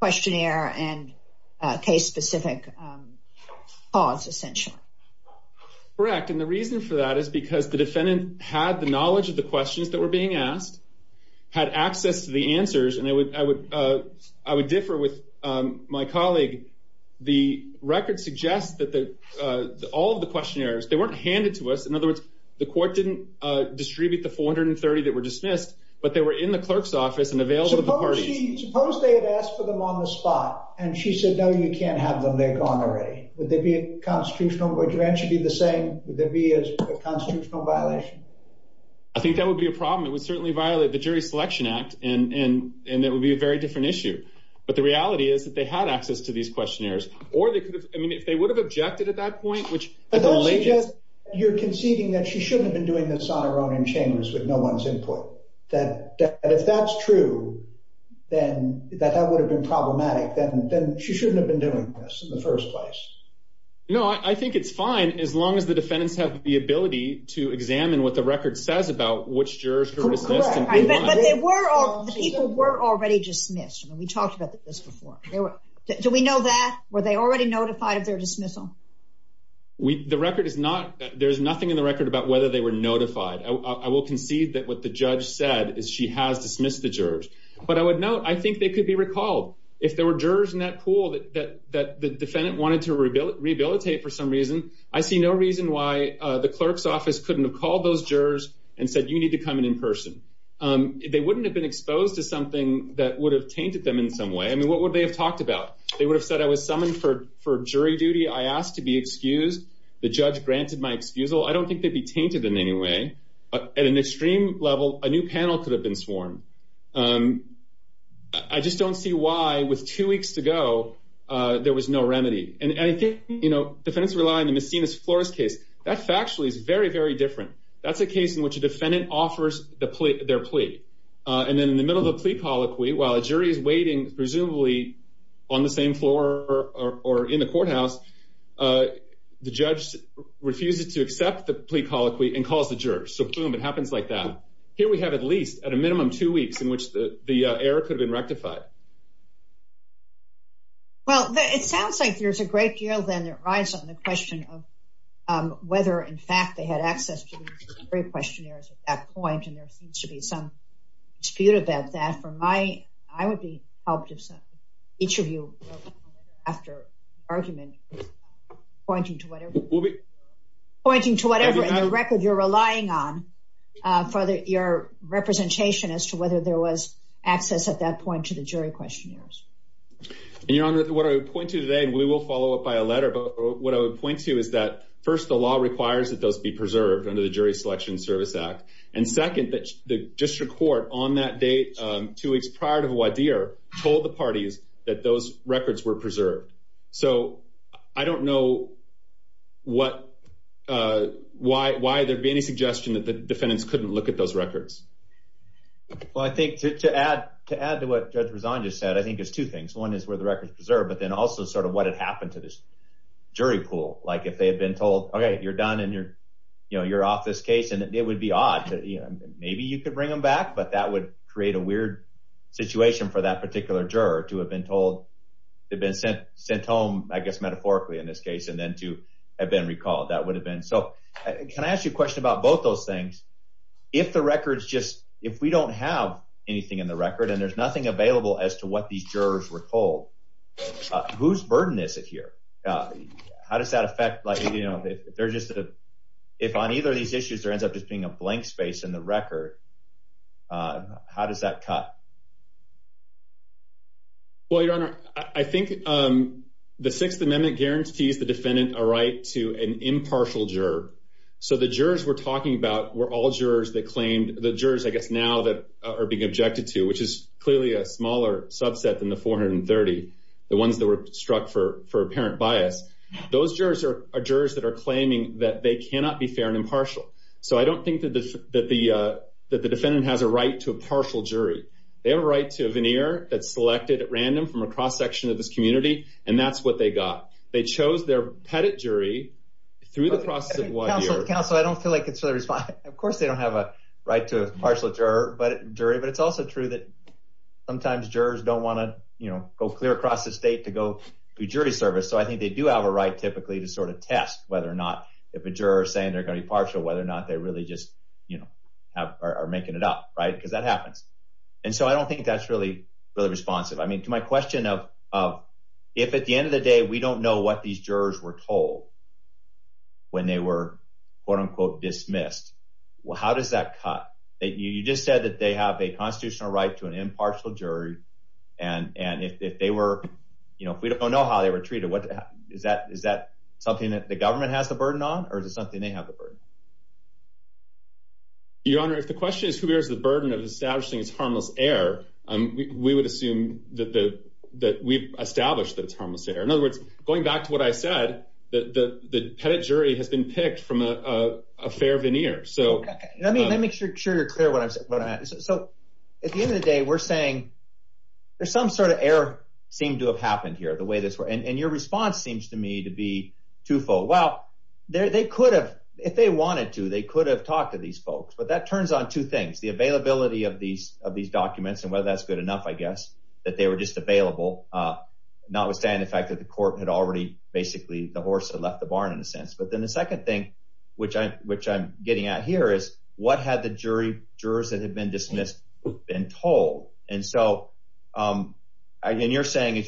questionnaire and case-specific cause, essentially. Correct. And the reason for that is because the defendant had the knowledge of the questions that were being asked, had access to the answers, and I would differ with my colleague. The record suggests that all of the questionnaires, they weren't handed to us. In other words, the court didn't distribute the 430 that were dismissed, but they were in the clerk's office and available to the jury. Suppose they had asked for them on the spot, and she said, no, you can't have them. They've gone already. Would there be a constitutional – would your answer be the same? Would there be a constitutional violation? I think that would be a problem. It would certainly violate the Jury Selection Act, and it would be a very different issue. But the reality is that they had access to these questionnaires. Or they could have – I mean, they would have objected at that point, which – You're conceding that she shouldn't have been doing this on her own in chambers with no one's input. That if that's true, then that would have been problematic. Then she shouldn't have been doing this in the first place. No, I think it's fine as long as the defendants have the ability to examine what the record says about which jurors were dismissed. But they were already – the people were already dismissed. We talked about this before. Do we know that? Were they already notified of their dismissal? The record is not – there is nothing in the record about whether they were notified. I will concede that what the judge said is she has dismissed the jurors. But I would note, I think they could be recalled. If there were jurors in that pool that the defendant wanted to rehabilitate for some reason, I see no reason why the clerk's office couldn't have called those jurors and said you need to come in in person. They wouldn't have been exposed to something that would have tainted them in some way. I mean, what would they have talked about? They would have said I was summoned for jury duty. I asked to be excused. The judge granted my excusal. I don't think they'd be tainted in any way. At an extreme level, a new panel could have been sworn. I just don't see why, with two weeks to go, there was no remedy. And I think, you know, defense rely on the misdemeanor's floors case. That factually is very, very different. That's a case in which a defendant offers their plea. And then in the middle of the plea colloquy, while a jury is waiting, presumably, on the same floor or in the courthouse, the judge refuses to accept the plea colloquy and calls the jurors. So, boom, it happens like that. Here we have at least, at a minimum, two weeks in which the error could have been rectified. Well, it sounds like there's a great deal then that rides on the question of whether, in fact, they had access to the free questionnaires at that point. And there seems to be some dispute about that. I would be helped if each of you, after argument, pointing to whatever. We'll be. For your representation as to whether there was access at that point to the jury questionnaires. Your Honor, what I would point to today, and we will follow up by a letter, but what I would point to is that, first, the law requires that those be preserved under the Jury Selection Service Act. And, second, the district court, on that date, two weeks prior to Huadir, told the parties that those records were preserved. So, I don't know why there'd be any suggestion that the defendants couldn't look at those records. Well, I think, to add to what Judge Rosado just said, I think there's two things. One is where the record's preserved, but then also sort of what had happened to this jury pool. Like, if they had been told, okay, you're done, and you're off this case, and it would be odd. Maybe you could bring them back, but that would create a weird situation for that particular juror to have been told, had been sent home, I guess, metaphorically in this case, and then to have been recalled. That would have been. So, can I ask you a question about both those things? If the record's just, if we don't have anything in the record, and there's nothing available as to what these jurors were told, whose burden is it here? How does that affect, like, you know, if on either of these issues, there ends up being a blank space in the record, how does that cut? Well, Your Honor, I think the Sixth Amendment guarantees the defendant a right to an impartial juror. So, the jurors we're talking about were all jurors that claimed, the jurors, I guess, now that are being objected to, which is clearly a smaller subset than the 430, the ones that were struck for apparent bias. Those jurors are jurors that are claiming that they cannot be fair and impartial. So, I don't think that the defendant has a right to a partial jury. They have a right to a veneer that's selected at random from a cross-section of this community, and that's what they got. They chose their pettit jury through the process of one year. Counsel, I don't feel like it's a response. Of course they don't have a right to a partial jury, but it's also true that sometimes jurors don't want to, you know, go clear across the state to go do jury service. So, I think they do have a right, typically, to sort of test whether or not if a juror is saying they're going to be partial, whether or not they really just, you know, are making it up, right? Because that happens. And so, I don't think that's really responsive. I mean, to my question of if, at the end of the day, we don't know what these jurors were told when they were, quote, unquote, dismissed, how does that cut? You just said that they have a constitutional right to an impartial jury, and if they were, you know, if we don't know how they were treated, is that something that the government has the burden on, or is it something they have the burden on? Your Honor, if the question is who bears the burden of establishing this harmless error, we would assume that we've established this harmless error. In other words, going back to what I said, the tenant jury has been picked from a fair veneer. Okay. Let me make sure you're clear what I said. So, at the end of the day, we're saying, there's some sort of error seemed to have happened here, the way this, and your response seems to me to be twofold. Well, they could have, if they wanted to, they could have talked to these folks, but that turns on two things. The availability of these documents, and whether that's good enough, I guess, that they were just available, notwithstanding the fact that the court had already basically divorced and left the barn in a sense. But then the second thing, which I'm getting at here, is what had the jurors that had been dismissed been told? And so, again, you're saying,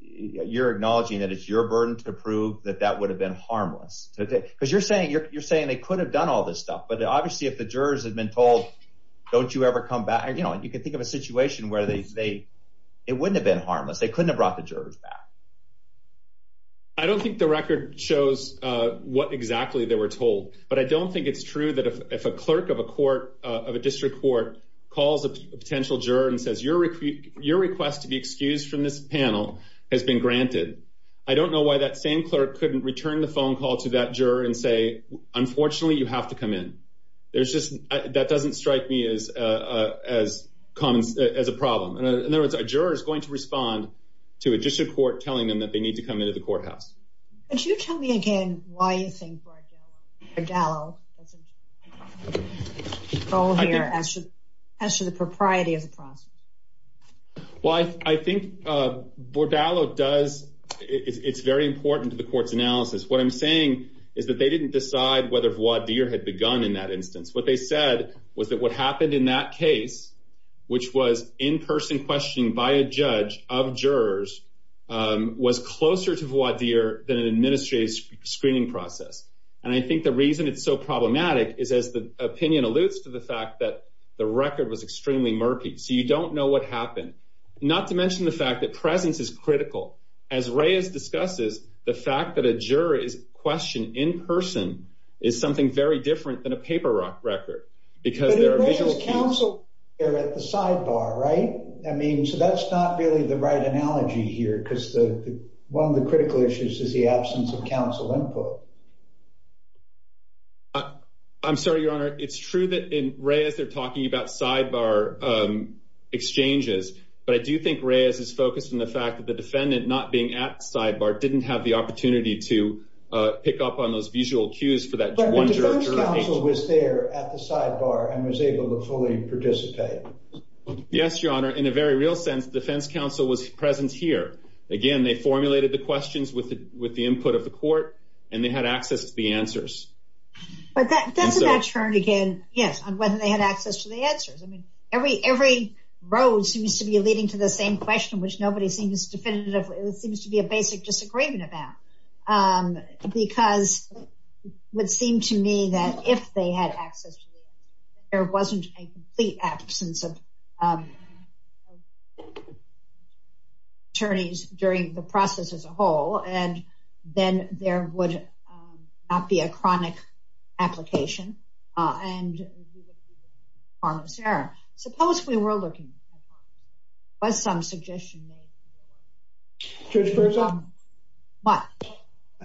you're acknowledging that it's your burden to prove that that would have been harmless, because you're saying, you're saying they could have done all this stuff, but obviously if the jurors had been told, don't you ever come back? You know, and you can think of a situation where they wouldn't have been harmless. They couldn't have brought the jurors back. I don't think the record shows what exactly they were told, but I don't think it's true that if a clerk of a court of a district court calls a potential juror and says, your request to be excused from this panel has been granted. I don't know why that same clerk couldn't return the phone call to that juror and say, unfortunately, you have to come in. There's just, that doesn't strike me as common as a problem. And there was a juror is going to respond to a district court telling them that they need to come into the courthouse. Could you tell me again why you think Bordallo doesn't fall here as to the propriety of the process? Well, I think Bordallo does. It's very important to the court's analysis. What I'm saying is that they didn't decide whether voir dire had begun in that instance. What they said was that what happened in that case, which was in-person questioning by a judge of jurors, was closer to voir dire than an administrative screening process. And I think the reason it's so problematic is as the opinion alludes to the fact that the record was extremely murky. So you don't know what happened. Not to mention the fact that presence is critical. As Reyes discusses, the fact that a juror is questioned in-person is something very different than a paper rock record. But if Reyes counseled, they're at the sidebar, right? I mean, so that's not really the right analogy here, because one of the critical issues is the absence of counsel input. I'm sorry, Your Honor. It's true that in Reyes they're talking about sidebar exchanges, but I do think Reyes is focused on the fact that the defendant not being at the sidebar didn't have the opportunity to pick up on those visual cues. But the defense counsel was there at the sidebar and was able to fully participate. Yes, Your Honor. In a very real sense, the defense counsel was present here. Again, they formulated the questions with the input of the court, and they had access to the answers. But that's a turn again, yes, on whether they had access to the answers. I mean, every row seems to be leading to the same question, which nobody seems definitive. It seems to be a basic disagreement of that, because it would seem to me that if they had access, there wasn't a complete absence of attorneys during the process as a whole, and then there would not be a chronic application. And the defense counsel was there. Supposedly, we're looking at that. It was some suggestion made. Judge Berzo? What?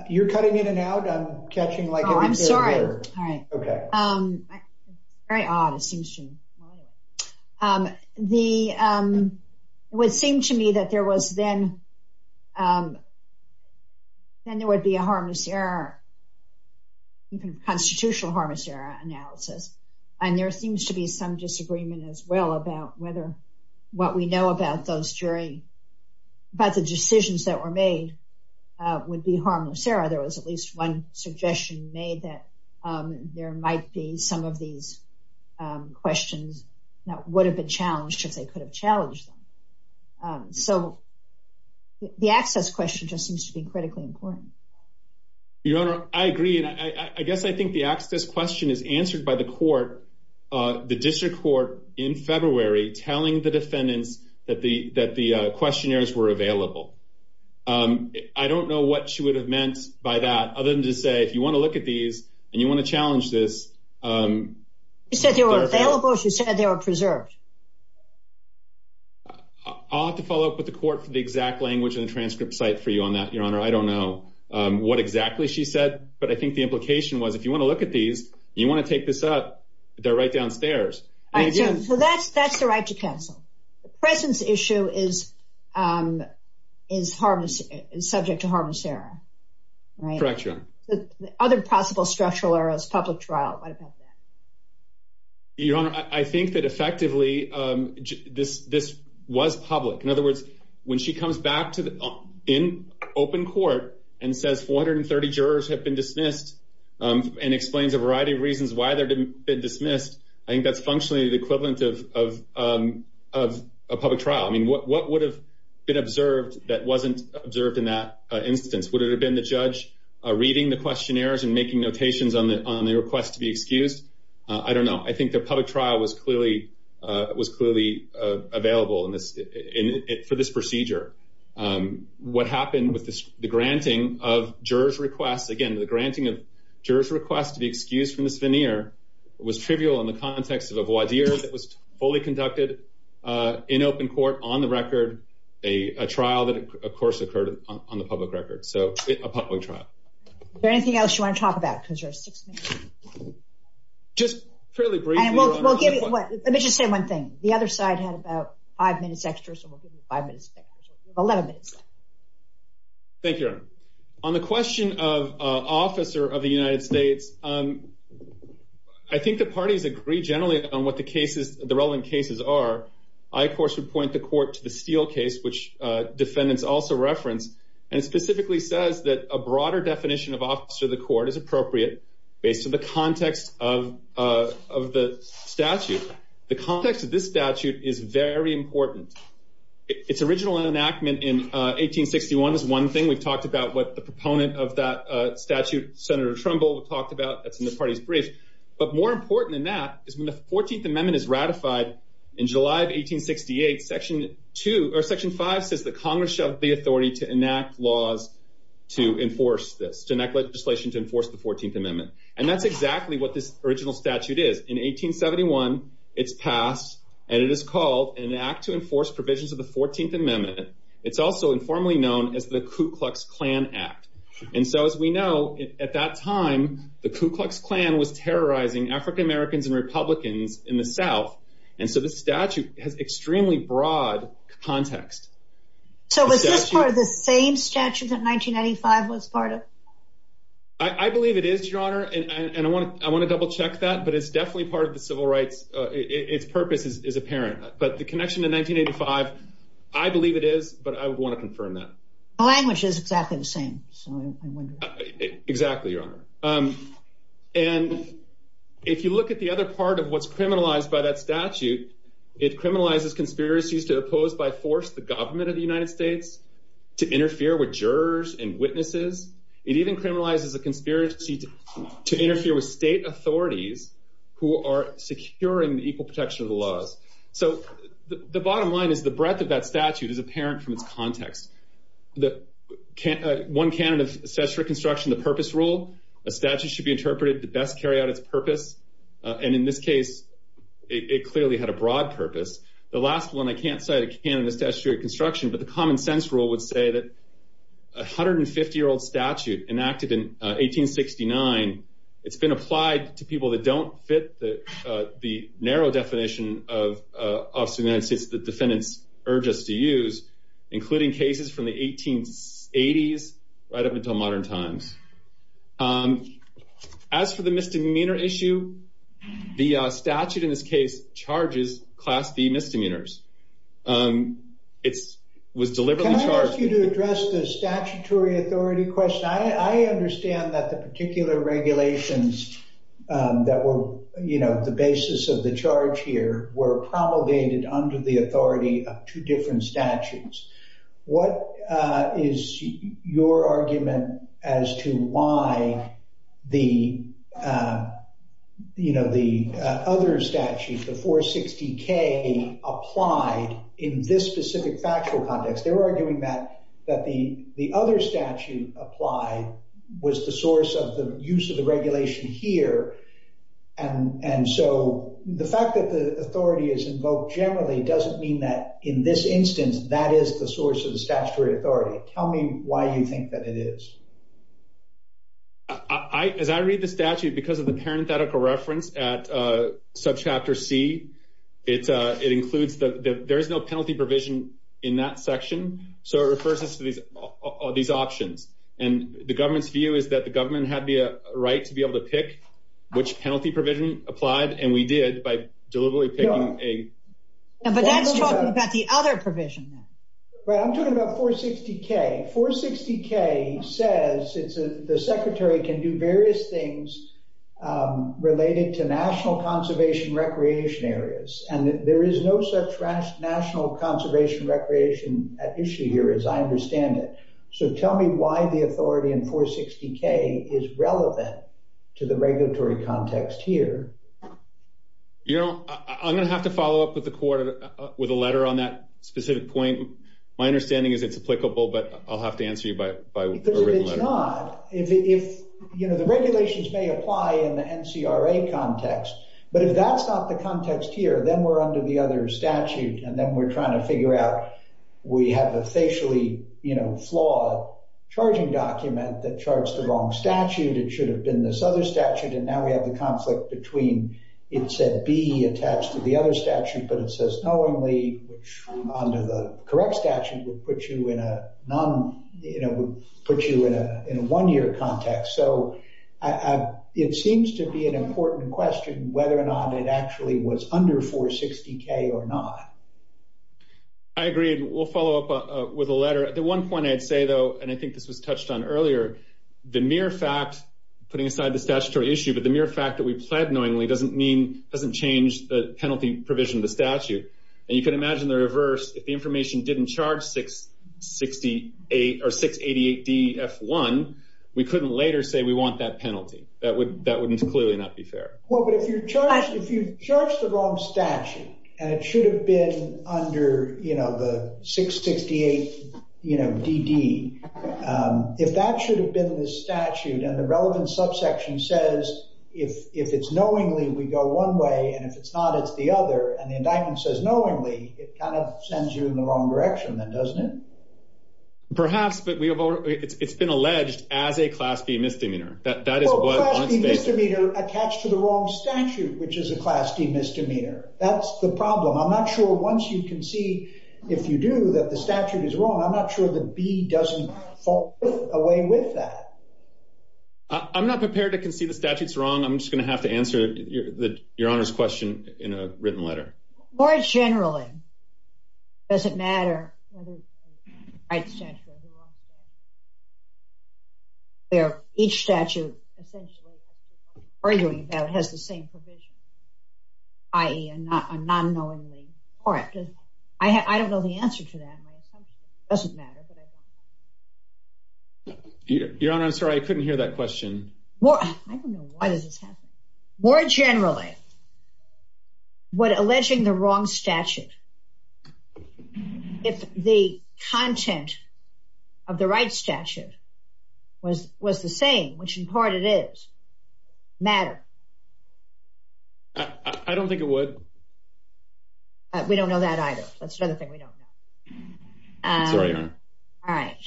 You're cutting in and out. I'm catching like every day. Oh, I'm sorry. All right. Okay. It's very odd. It seems to me. It would seem to me that there would be a harmless error, even a constitutional harmless error analysis, and there seems to be some disagreement as well about what we know about those jury, but the decisions that were made would be harmless error. There was at least one suggestion made that there might be some of these questions that would have been challenged if they could have challenged them. So the access question just seems to be critically important. Your Honor, I agree, and I guess I think the access question is answered by the court, the district court, in February, telling the defendants that the questionnaires were available. I don't know what she would have meant by that other than to say, if you want to look at these and you want to challenge this. She said they were available. She said they were preserved. I'll have to follow up with the court for the exact language of the transcript site for you on that, Your Honor. I don't know what exactly she said, but I think the implication was if you want to look at these, you want to take this up, they're right downstairs. So that's the right to cancel. The presence issue is subject to harmless error. Correct, Your Honor. The other possible structural error is public trial. Your Honor, I think that effectively this was public. In other words, when she comes back to the open court and says 430 jurors have been dismissed and explains a variety of reasons why they've been dismissed, I think that's functionally the equivalent of a public trial. I mean, what would have been observed that wasn't observed in that instance? Would it have been the judge reading the questionnaires and making notations on the request to be excused? I don't know. I think the public trial was clearly available for this procedure. What happened with the granting of jurors' request, again, the granting of jurors' request to be excused from this veneer was trivial in the context of a voir dire that was fully conducted in open court on the record, a trial that of course occurred on the public record. So it's a public trial. Is there anything else you want to talk about? Just fairly briefly. Let me just say one thing. The other side had about five minutes extra, so we'll give you five minutes. Thank you, Your Honor. On the question of an officer of the United States, I think the parties agree generally on what the relevant cases are. I, of course, would point the court to the Steele case, which defendants also referenced, and specifically says that a broader definition of officer of the court is appropriate. It's in the context of the statute. The context of this statute is very important. Its original enactment in 1861 is one thing. We've talked about what the proponent of that statute, Senator Trumbull, talked about in the parties brief. But more important than that is when the 14th Amendment is ratified in July of 1868, Section 2, or Section 5, says that Congress shall have the authority to enact laws to enforce this, to enact legislation to enforce the 14th Amendment. And that's exactly what this original statute is. In 1871, it's passed, and it is called an Act to Enforce Provisions of the 14th Amendment. It's also informally known as the Ku Klux Klan Act. And so as we know, at that time, the Ku Klux Klan was terrorizing African Americans and Republicans in the And it has extremely broad context. So was this part of the same statute that 1995 was part of? I believe it is, Your Honor. And I want to double check that, but it's definitely part of the civil rights. Its purpose is apparent. But the connection to 1985, I believe it is, but I want to confirm that. The language is exactly the same. Exactly, Your Honor. And if you look at the other part of what's criminalized by that statute, it criminalizes conspiracies to oppose by force the government of the United States, to interfere with jurors and witnesses. It even criminalizes the conspiracy to interfere with state authorities who are securing the equal protection of the laws. So the bottom line is the breadth of that statute is apparent from the context. One candidate sets for construction the purpose rule. A statute should be interpreted to best carry out its purpose. And in this case, it clearly had a broad purpose. The last one, I can't cite a candidate's statute of construction, but the common sense rule would say that a 150-year-old statute enacted in 1869, it's been applied to people that don't fit the narrow definition of the United States that defendants urge us to use, including cases from the 1880s right up until modern times. As for the misdemeanor issue, the statute in this case charges Class B misdemeanors. Can I ask you to address the statutory authority question? I understand that the particular regulations that were the basis of the charge here were promulgated under the authority of two different statutes. What is your argument as to why the other statute, the 460K, applied in this specific factual context? They're arguing that the other statute applied was the source of the use of the regulation here. And so the fact that the authority is invoked generally doesn't mean that in this instance that is the source of the statutory authority. Tell me why you think that it is. As I read the statute, because of the parenthetical reference at subchapter C, it includes that there is no penalty provision in that section, so it refers us to these options. And the government's view is that the government had the right to be able to pick which penalty provision applied, and we did by deliberately picking a... But that's talking about the other provision. I'm talking about 460K. 460K says the secretary can do various things related to national conservation recreation areas, and there is no such national conservation recreation issue here as I understand it. So tell me why the authority in 460K is relevant to the regulatory context here. You know, I'm going to have to follow up with a letter on that specific point. My understanding is it's applicable, but I'll have to answer you by a written letter. It's not. The regulations may apply in the NCRA context, but if that's not the context here, then we're under the other statute, and then we're trying to figure out we have a facially flawed charging document that charts the wrong statute. It should have been this other statute, and now we have a conflict between, it said B attached to the other statute, but it says knowingly, which under the correct statute would put you in a one-year context. So it seems to be an important question whether or not it actually was under 460K or not. I agree. We'll follow up with a letter. The one point I'd say, though, and I think this was touched on earlier, the mere fact, putting aside the statutory issue, but the mere fact that we've said knowingly doesn't mean, doesn't change the penalty provision of the statute. And you can imagine the reverse. If the information didn't charge 688DF1, we couldn't later say we want that penalty. That would clearly not be fair. Well, but if you charge the wrong statute, and it should have been under, you know, the 658, you know, DD, if that should have been the statute and the relevant subsection says if it's knowingly, we go one way, and if it's not, it's the other, and the indictment says knowingly, it kind of sends you in the wrong direction, then, doesn't it? Perhaps, but it's been alleged as a Class D misdemeanor. Well, a Class D misdemeanor attached to the wrong statute, which is a Class D misdemeanor. That's the problem. I'm not sure once you concede, if you do, that the statute is wrong. I'm not sure that B doesn't fall away with that. I'm not prepared to concede the statute's wrong. I'm just going to have to answer your Honor's question in a written letter. More generally, does it matter whether the right statute or the wrong statute, where each statute essentially has the same provision, i.e., a non-knowingly correct? I don't know the answer to that. It doesn't matter. Your Honor, I'm sorry. I couldn't hear that question. I don't know why this is happening. More generally, would alleging the wrong statute, if the content of the right statute was the same, which in part it is, matter? I don't think it would. We don't know that either. That's another thing we don't know. All right.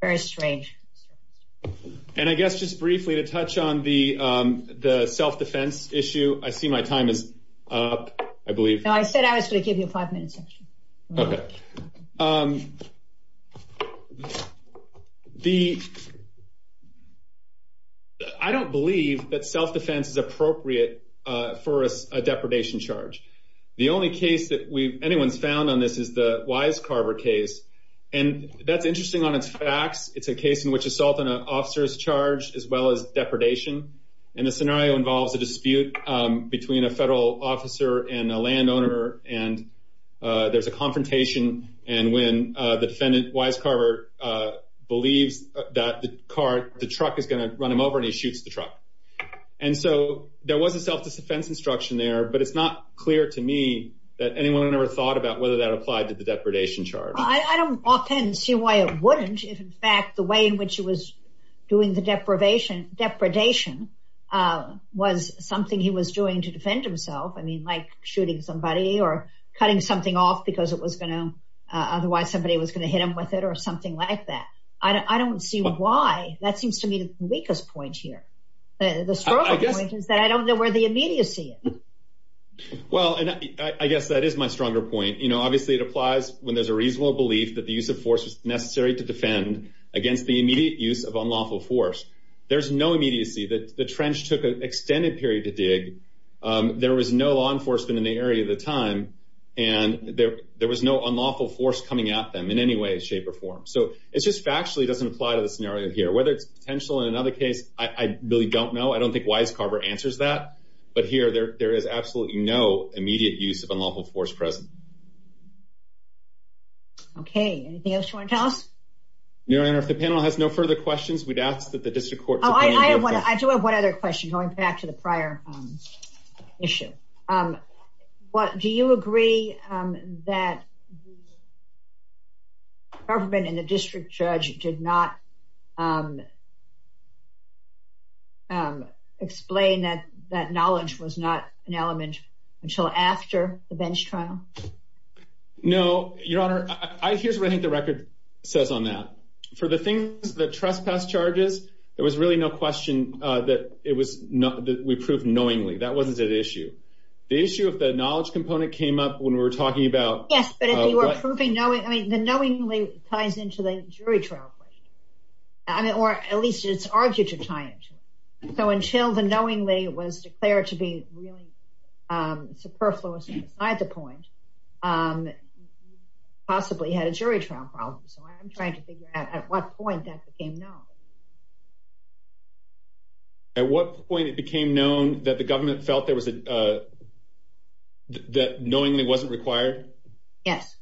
Very strange. And I guess just briefly to touch on the self-defense issue, I see my time is up, I believe. No, I said I was going to give you a five-minute session. Okay. I don't believe that self-defense is appropriate for a depredation charge. The only case that anyone's found on this is the Wise Carver case, and that's interesting on its facts. It's a case in which assault on an officer is charged as well as depredation, and the scenario involved a dispute between a federal officer and a landowner, and there's a confrontation, and when the defendant, Wise Carver, believes that the truck is going to run him over and he shoots the truck. And so there was a self-defense instruction there, but it's not clear to me that anyone ever thought about whether that applied to the depredation charge. I don't walk in and see why it wouldn't. I don't see why it wouldn't. I don't know if the charge is in fact the way in which he was doing the depredation, was something he was doing to defend himself. I mean, like shooting somebody or cutting something off because it was going to, otherwise somebody was going to hit him with it or something like that. I don't see why. That seems to me to be the weakest point here. I don't know where the immediacy is. Well, I guess that is my stronger point. You know, obviously it applies when there's a reasonable belief that the use of force is necessary to defend against the immediate use of unlawful force. There's no immediacy that the trench took an extended period to dig. There was no law enforcement in the area at the time, and there was no unlawful force coming at them in any way, shape or form. So it's just factually doesn't apply to the scenario here, whether it's potential in another case. I really don't know. I don't think Wise Carver answers that, but here there, there is absolutely no immediate use of unlawful force present. Okay. Anything else you want to tell us? Your Honor, if the panel has no further questions, we'd ask that the district court. I do have one other question going back to the prior issue. What do you agree that the government and the district judge did not explain that that knowledge was not an element until after the bench trial? No, your Honor, I, here's what I think the record says on that. For the things, the trespass charges, there was really no question that it was not that we proved knowingly that wasn't that issue. The issue of the knowledge component came up when we were talking about proving, I mean, the knowingly ties into the jury trial. I mean, or at least it's argued to tie into it. So until the knowingly was declared to be really superfluous at the point, possibly had a jury trial process. I'm trying to figure out at what point that became known. At what point it became known that the government felt there was a, that knowingly wasn't required? Yes.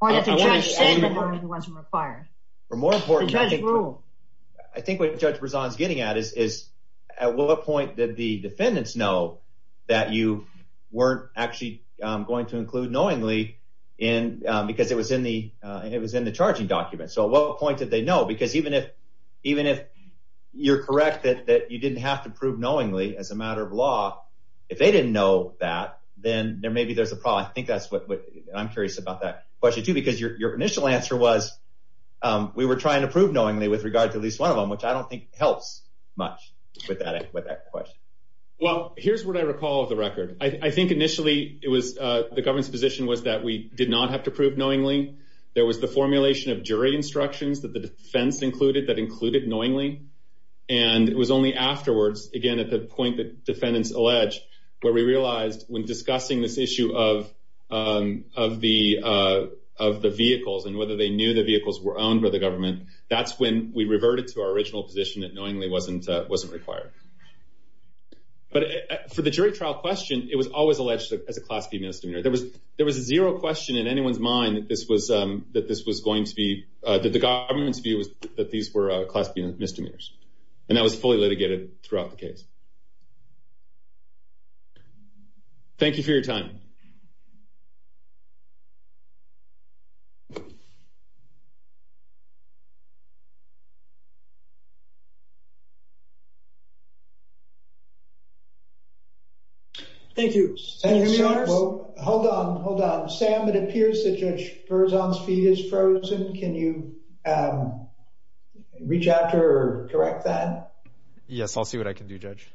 Or that the judge said that knowingly wasn't required. More importantly, I think what Judge Brisson is getting at is at what point did the defendants know that you weren't actually going to include knowingly in, because it was in the, and it was in the charging document. So what point did they know? Because even if, even if you're correct that you didn't have to prove knowingly as a matter of law, if they didn't know that, then there may be there's a problem. I think that's what, I'm curious about that question too, because your initial answer was, we were trying to prove knowingly with regard to at least one of them, which I don't think helps much with that question. Well, here's what I recall of the record. I think initially it was, the government's position was that we did not have to prove knowingly. There was the formulation of jury instructions that the defense included that included knowingly. And it was only afterwards, again, at the point that defendants allege where we realized when discussing this issue of, of the, of the vehicles, and whether they knew the vehicles were owned by the government, that's when we reverted to our original position that knowingly wasn't, wasn't required. But for the jury trial question, it was always alleged that the class B misdemeanor, there was, there was zero question in anyone's mind that this was, that this was going to be, that the government's view was that these were class B misdemeanors. And that was fully litigated throughout the case. Thank you for your time. Thank you. Hold on, hold on. Sam, it appears that Judge Berzonski is frozen. Can you reach out or correct that? Yes. I'll see what I can do. Judge.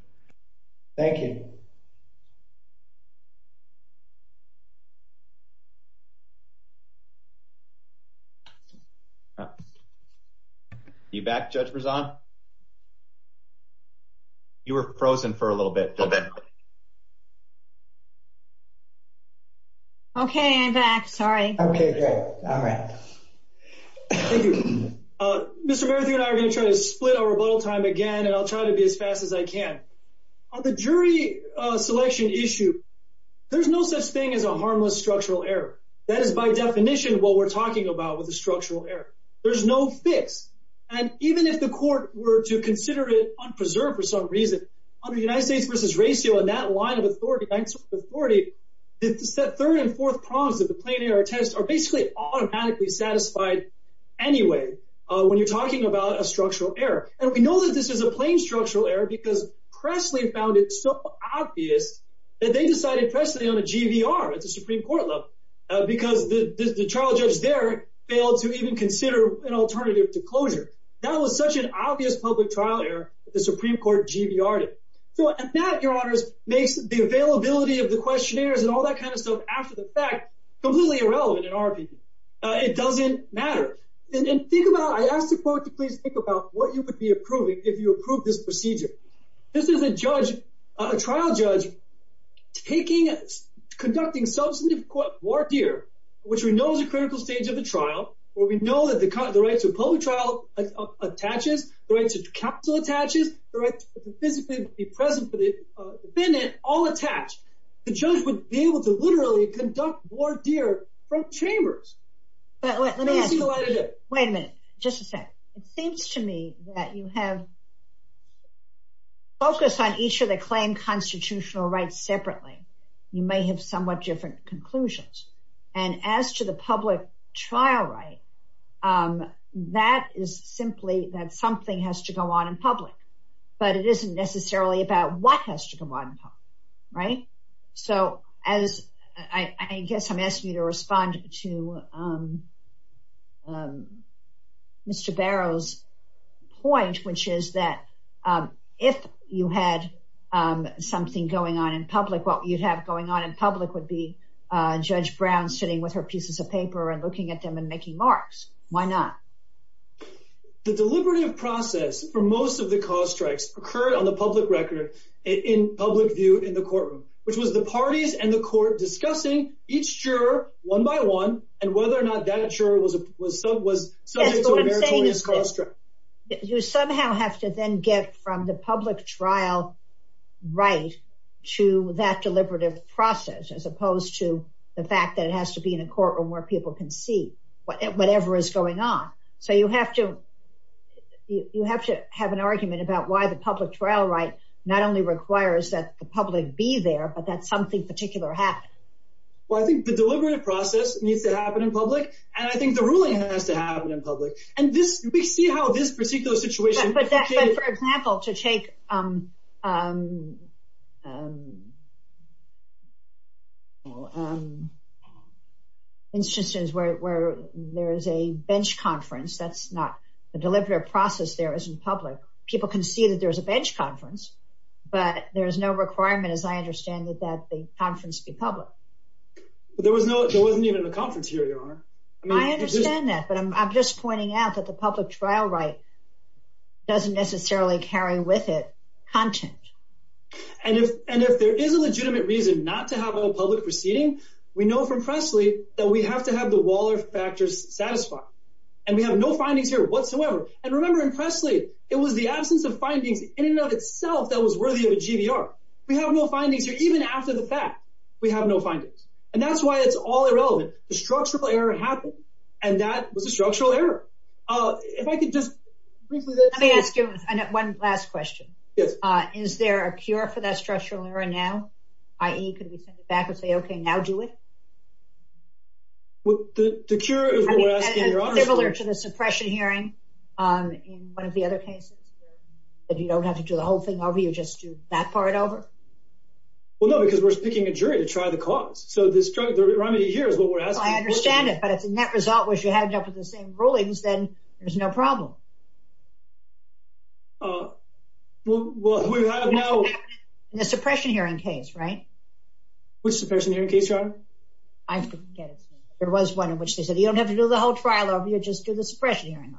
Thank you. You back Judge Berzonski? You were frozen for a little bit. Okay. I'm back. Sorry. Okay. Great. All right. Thank you. Mr. Berzonski and I are going to try to split our rebuttal time again, and I'll try to be as fast as I can. On the jury selection issue, there's no such thing as a harmless structural error. That is by definition what we're talking about with the structural error. There's no fix. And even if the court were to consider it unpreserved for some reason, on the United States versus ratio and that line of authority, the third and fourth prongs of the plain error test are basically automatically satisfied. Anyway, when you're talking about a structural error, and we know that this is a plain structural error because Cressley found it so obvious that they decided Cressley on a GVR at the Supreme court level because the trial judge there failed to even consider an alternative to closure. That was such an obvious public trial error that the Supreme court GVR'd it. So at that, your honors makes the availability of the questionnaires and all that kind of stuff after the fact completely irrelevant in our opinion. It doesn't matter. And think about, I asked the court to please think about what you could be approving if you approve this procedure. This is a judge, a trial judge, taking conducting substantive work here, which we know is a critical stage of the trial, where we know that the right to a public trial attaches, the right to capital attaches, the right to the presidency, all attached. The judge was able to literally conduct more GVR's from chambers. Wait a minute. Just a sec. It seems to me that you have focused on each of the claim constitutional rights separately. You may have somewhat different conclusions. And as to the public trial right, that is simply that something has to go on in public, but it isn't necessarily about what has to go on. Right. So as I guess I'm asking you to respond to Mr. Barrow's point, which is that if you had something going on in public, what you'd have going on in public would be judge Brown sitting with her and looking at pieces of paper and looking at them and making marks. Why not? The deliberative process for most of the cause strikes occurred on the public record in public view in the courtroom, which was the parties and the court discussing each juror one by one and whether or not that juror was, was, was. You somehow have to then get from the public trial right to that to be in a courtroom where people can see whatever is going on. So you have to, you have to have an argument about why the public trial right not only requires that the public be there, but that something particular happens. Well, I think the deliberative process needs to happen in public. And I think the ruling has to happen in public. And we see how this particular situation. For example, to take instances where there is a bench conference, that's not the deliberative process there isn't public. People can see that there's a bench conference, but there is no requirement as I understand it, that the conference be public. There was no, there wasn't even a conference here. I understand that, but I'm just pointing out that the public trial right doesn't necessarily carry with it content. And if there is a legitimate reason not to have a public proceeding, we know from Pressley that we have to have the Waller factors satisfied. And we have no findings here whatsoever. And remember in Pressley, it was the absence of findings in and of itself that was worthy of a GBR. We have no findings here, even after the fact, we have no findings. And that's why it's all irrelevant. The structural error happened. And that was a structural error. If I could just briefly. Let me ask you one last question. Is there a cure for that structural error now? IE, could we send it back and say, okay, now do it. With the cure. Similar to the suppression hearing. On one of the other cases. If you don't have to do the whole thing over, you just do that part over. Well, no, because we're speaking a jury to try the cost. So the struggle, the remedy here is. I understand it. But if the net result was you had enough of the same rulings, then there's no problem. Well, the suppression hearing case, right? Which suppression hearing case, John? I didn't get it. There was one in which they said, you don't have to do the whole trial over. You just do the suppression hearing.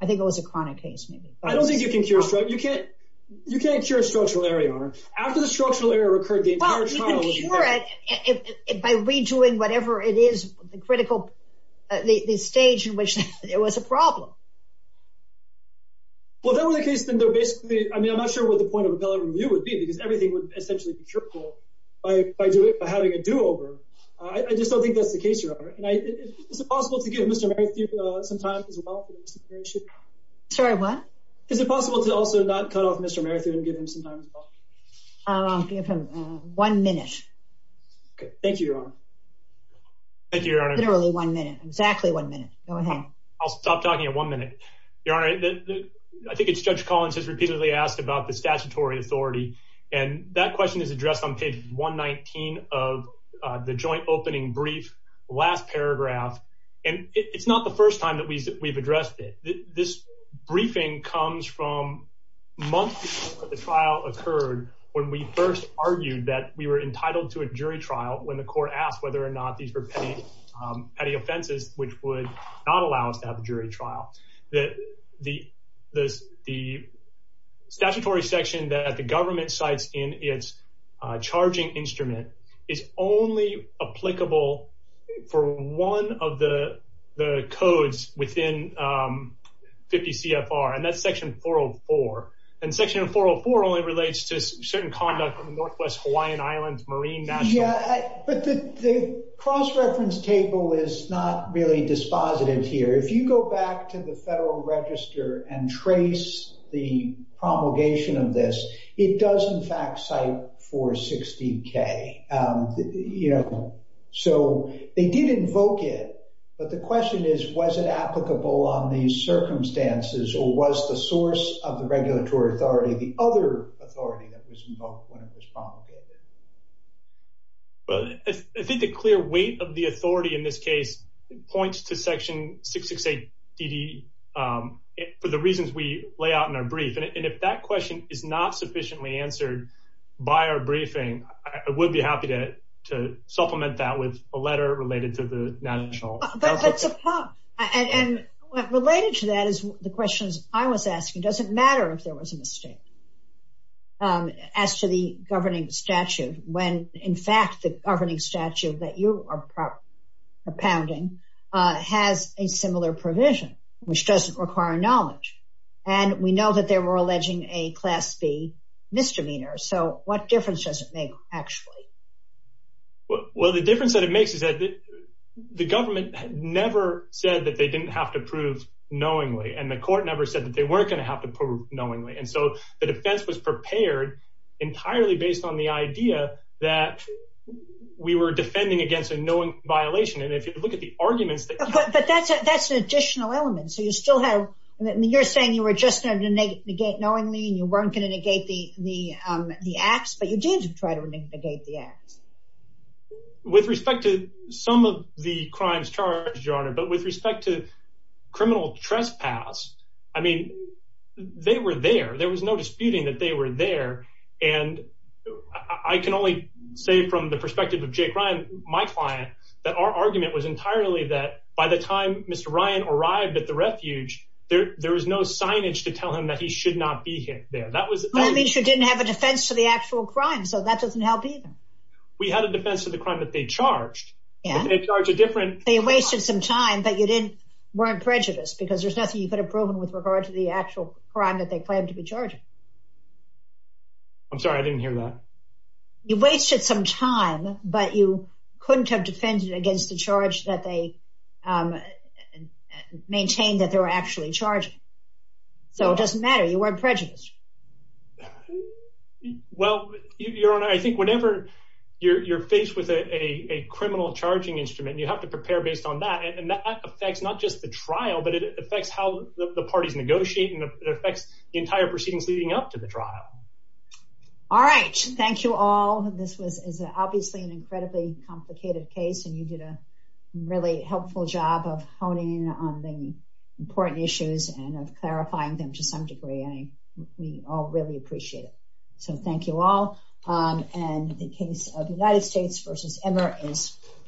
I think it was a chronic case. I don't think you can. You can't. You can't cure a structural error. After the structural error occurred. By redoing whatever it is. The critical stage in which it was a problem. Well, that was the case. I mean, I'm not sure what the point of view would be, because everything was essentially contrived. By having a do over. I just don't think that's the case. And I think it's possible to give Mr. Sometimes. Sorry, what is it possible to also not tell Mr. Merrick and give him some time? One minute. Thank you. Thank you. One minute, exactly one minute. I'll stop talking in one minute. All right. I think it's judge Collins has repeatedly asked about the statutory authority. And that question is addressed on page 119 of the joint opening brief last paragraph. And it's not the first time that we've addressed it. This briefing comes from months. The trial occurred when we first argued that we were entitled to a jury trial when the court asked whether or not these were petty offenses, which would not allow us to have a jury trial. The, the, the, the. Statutory section that the government sites in its charging instrument is only applicable for one of the codes within 50 CFR and that section 404 and section 404 only relates to certain conduct from the Northwest Hawaiian Islands Marine. Yeah. But the cross reference table is not really dispositive here. If you go back to the federal register and trace the promulgation of this, it does in fact site for 60 K. Yeah. So they did invoke it. But the question is, was it applicable on these circumstances or was the source of the regulatory authority, the other authority that was involved when it was promulgated? But I think the clear weight of the authority in this case points to section six, six, eight, 80 for the reasons we lay out in our brief. And if that question is not sufficiently answered by our briefing, I would be happy to supplement that with a letter related to the national. And related to that is the questions I was asking doesn't matter if there was a mistake as to the governing statute when in fact the governing statute that you are propounding has a similar provision which doesn't require knowledge. And we know that they were alleging a class B misdemeanor. So what difference does it make actually? Well, the difference that it makes is that the government never said that they didn't have to prove knowingly and the court never said that they weren't going to have to prove knowingly. And so the defense was prepared entirely based on the idea that we were defending against a knowing violation. And if you look at the arguments. But that's an additional element. So you still have you're saying you were just going to negate knowingly and you weren't going to negate the acts, but you did try to negate the acts. With respect to some of the crimes charged, your honor, but with respect to criminal trespass, I mean, they were there. There was no disputing that they were there. And I can only say from the perspective of Jake Ryan, my client, that our argument was entirely that by the time Mr. Ryan arrived at the refuge, there was no signage to tell him that he should not be there. That means you didn't have a defense to the actual crime. So that doesn't help either. We have a defense of the crime that they charged. And they charge a different. They wasted some time, but you didn't weren't prejudiced because there's nothing you could have proven with regard to the actual crime that they plan to be charging. I'm sorry, I didn't hear that. You wasted some time, but you couldn't have defended against the charge that they maintained that they were actually charging. So it doesn't matter. You weren't prejudiced. Well, your honor, I think whenever you're faced with a criminal charging instrument, you have to prepare based on that. And that affects not just the trial, but it affects how the parties negotiate and affects the entire proceedings leading up to the trial. All right. Thank you all. This was obviously an incredibly complicated case. And you did a really helpful job of honing on the important issues and clarifying them to some degree. We all really appreciate it. So thank you all.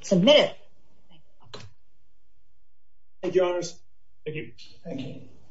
submitted. Thank you. Thank you.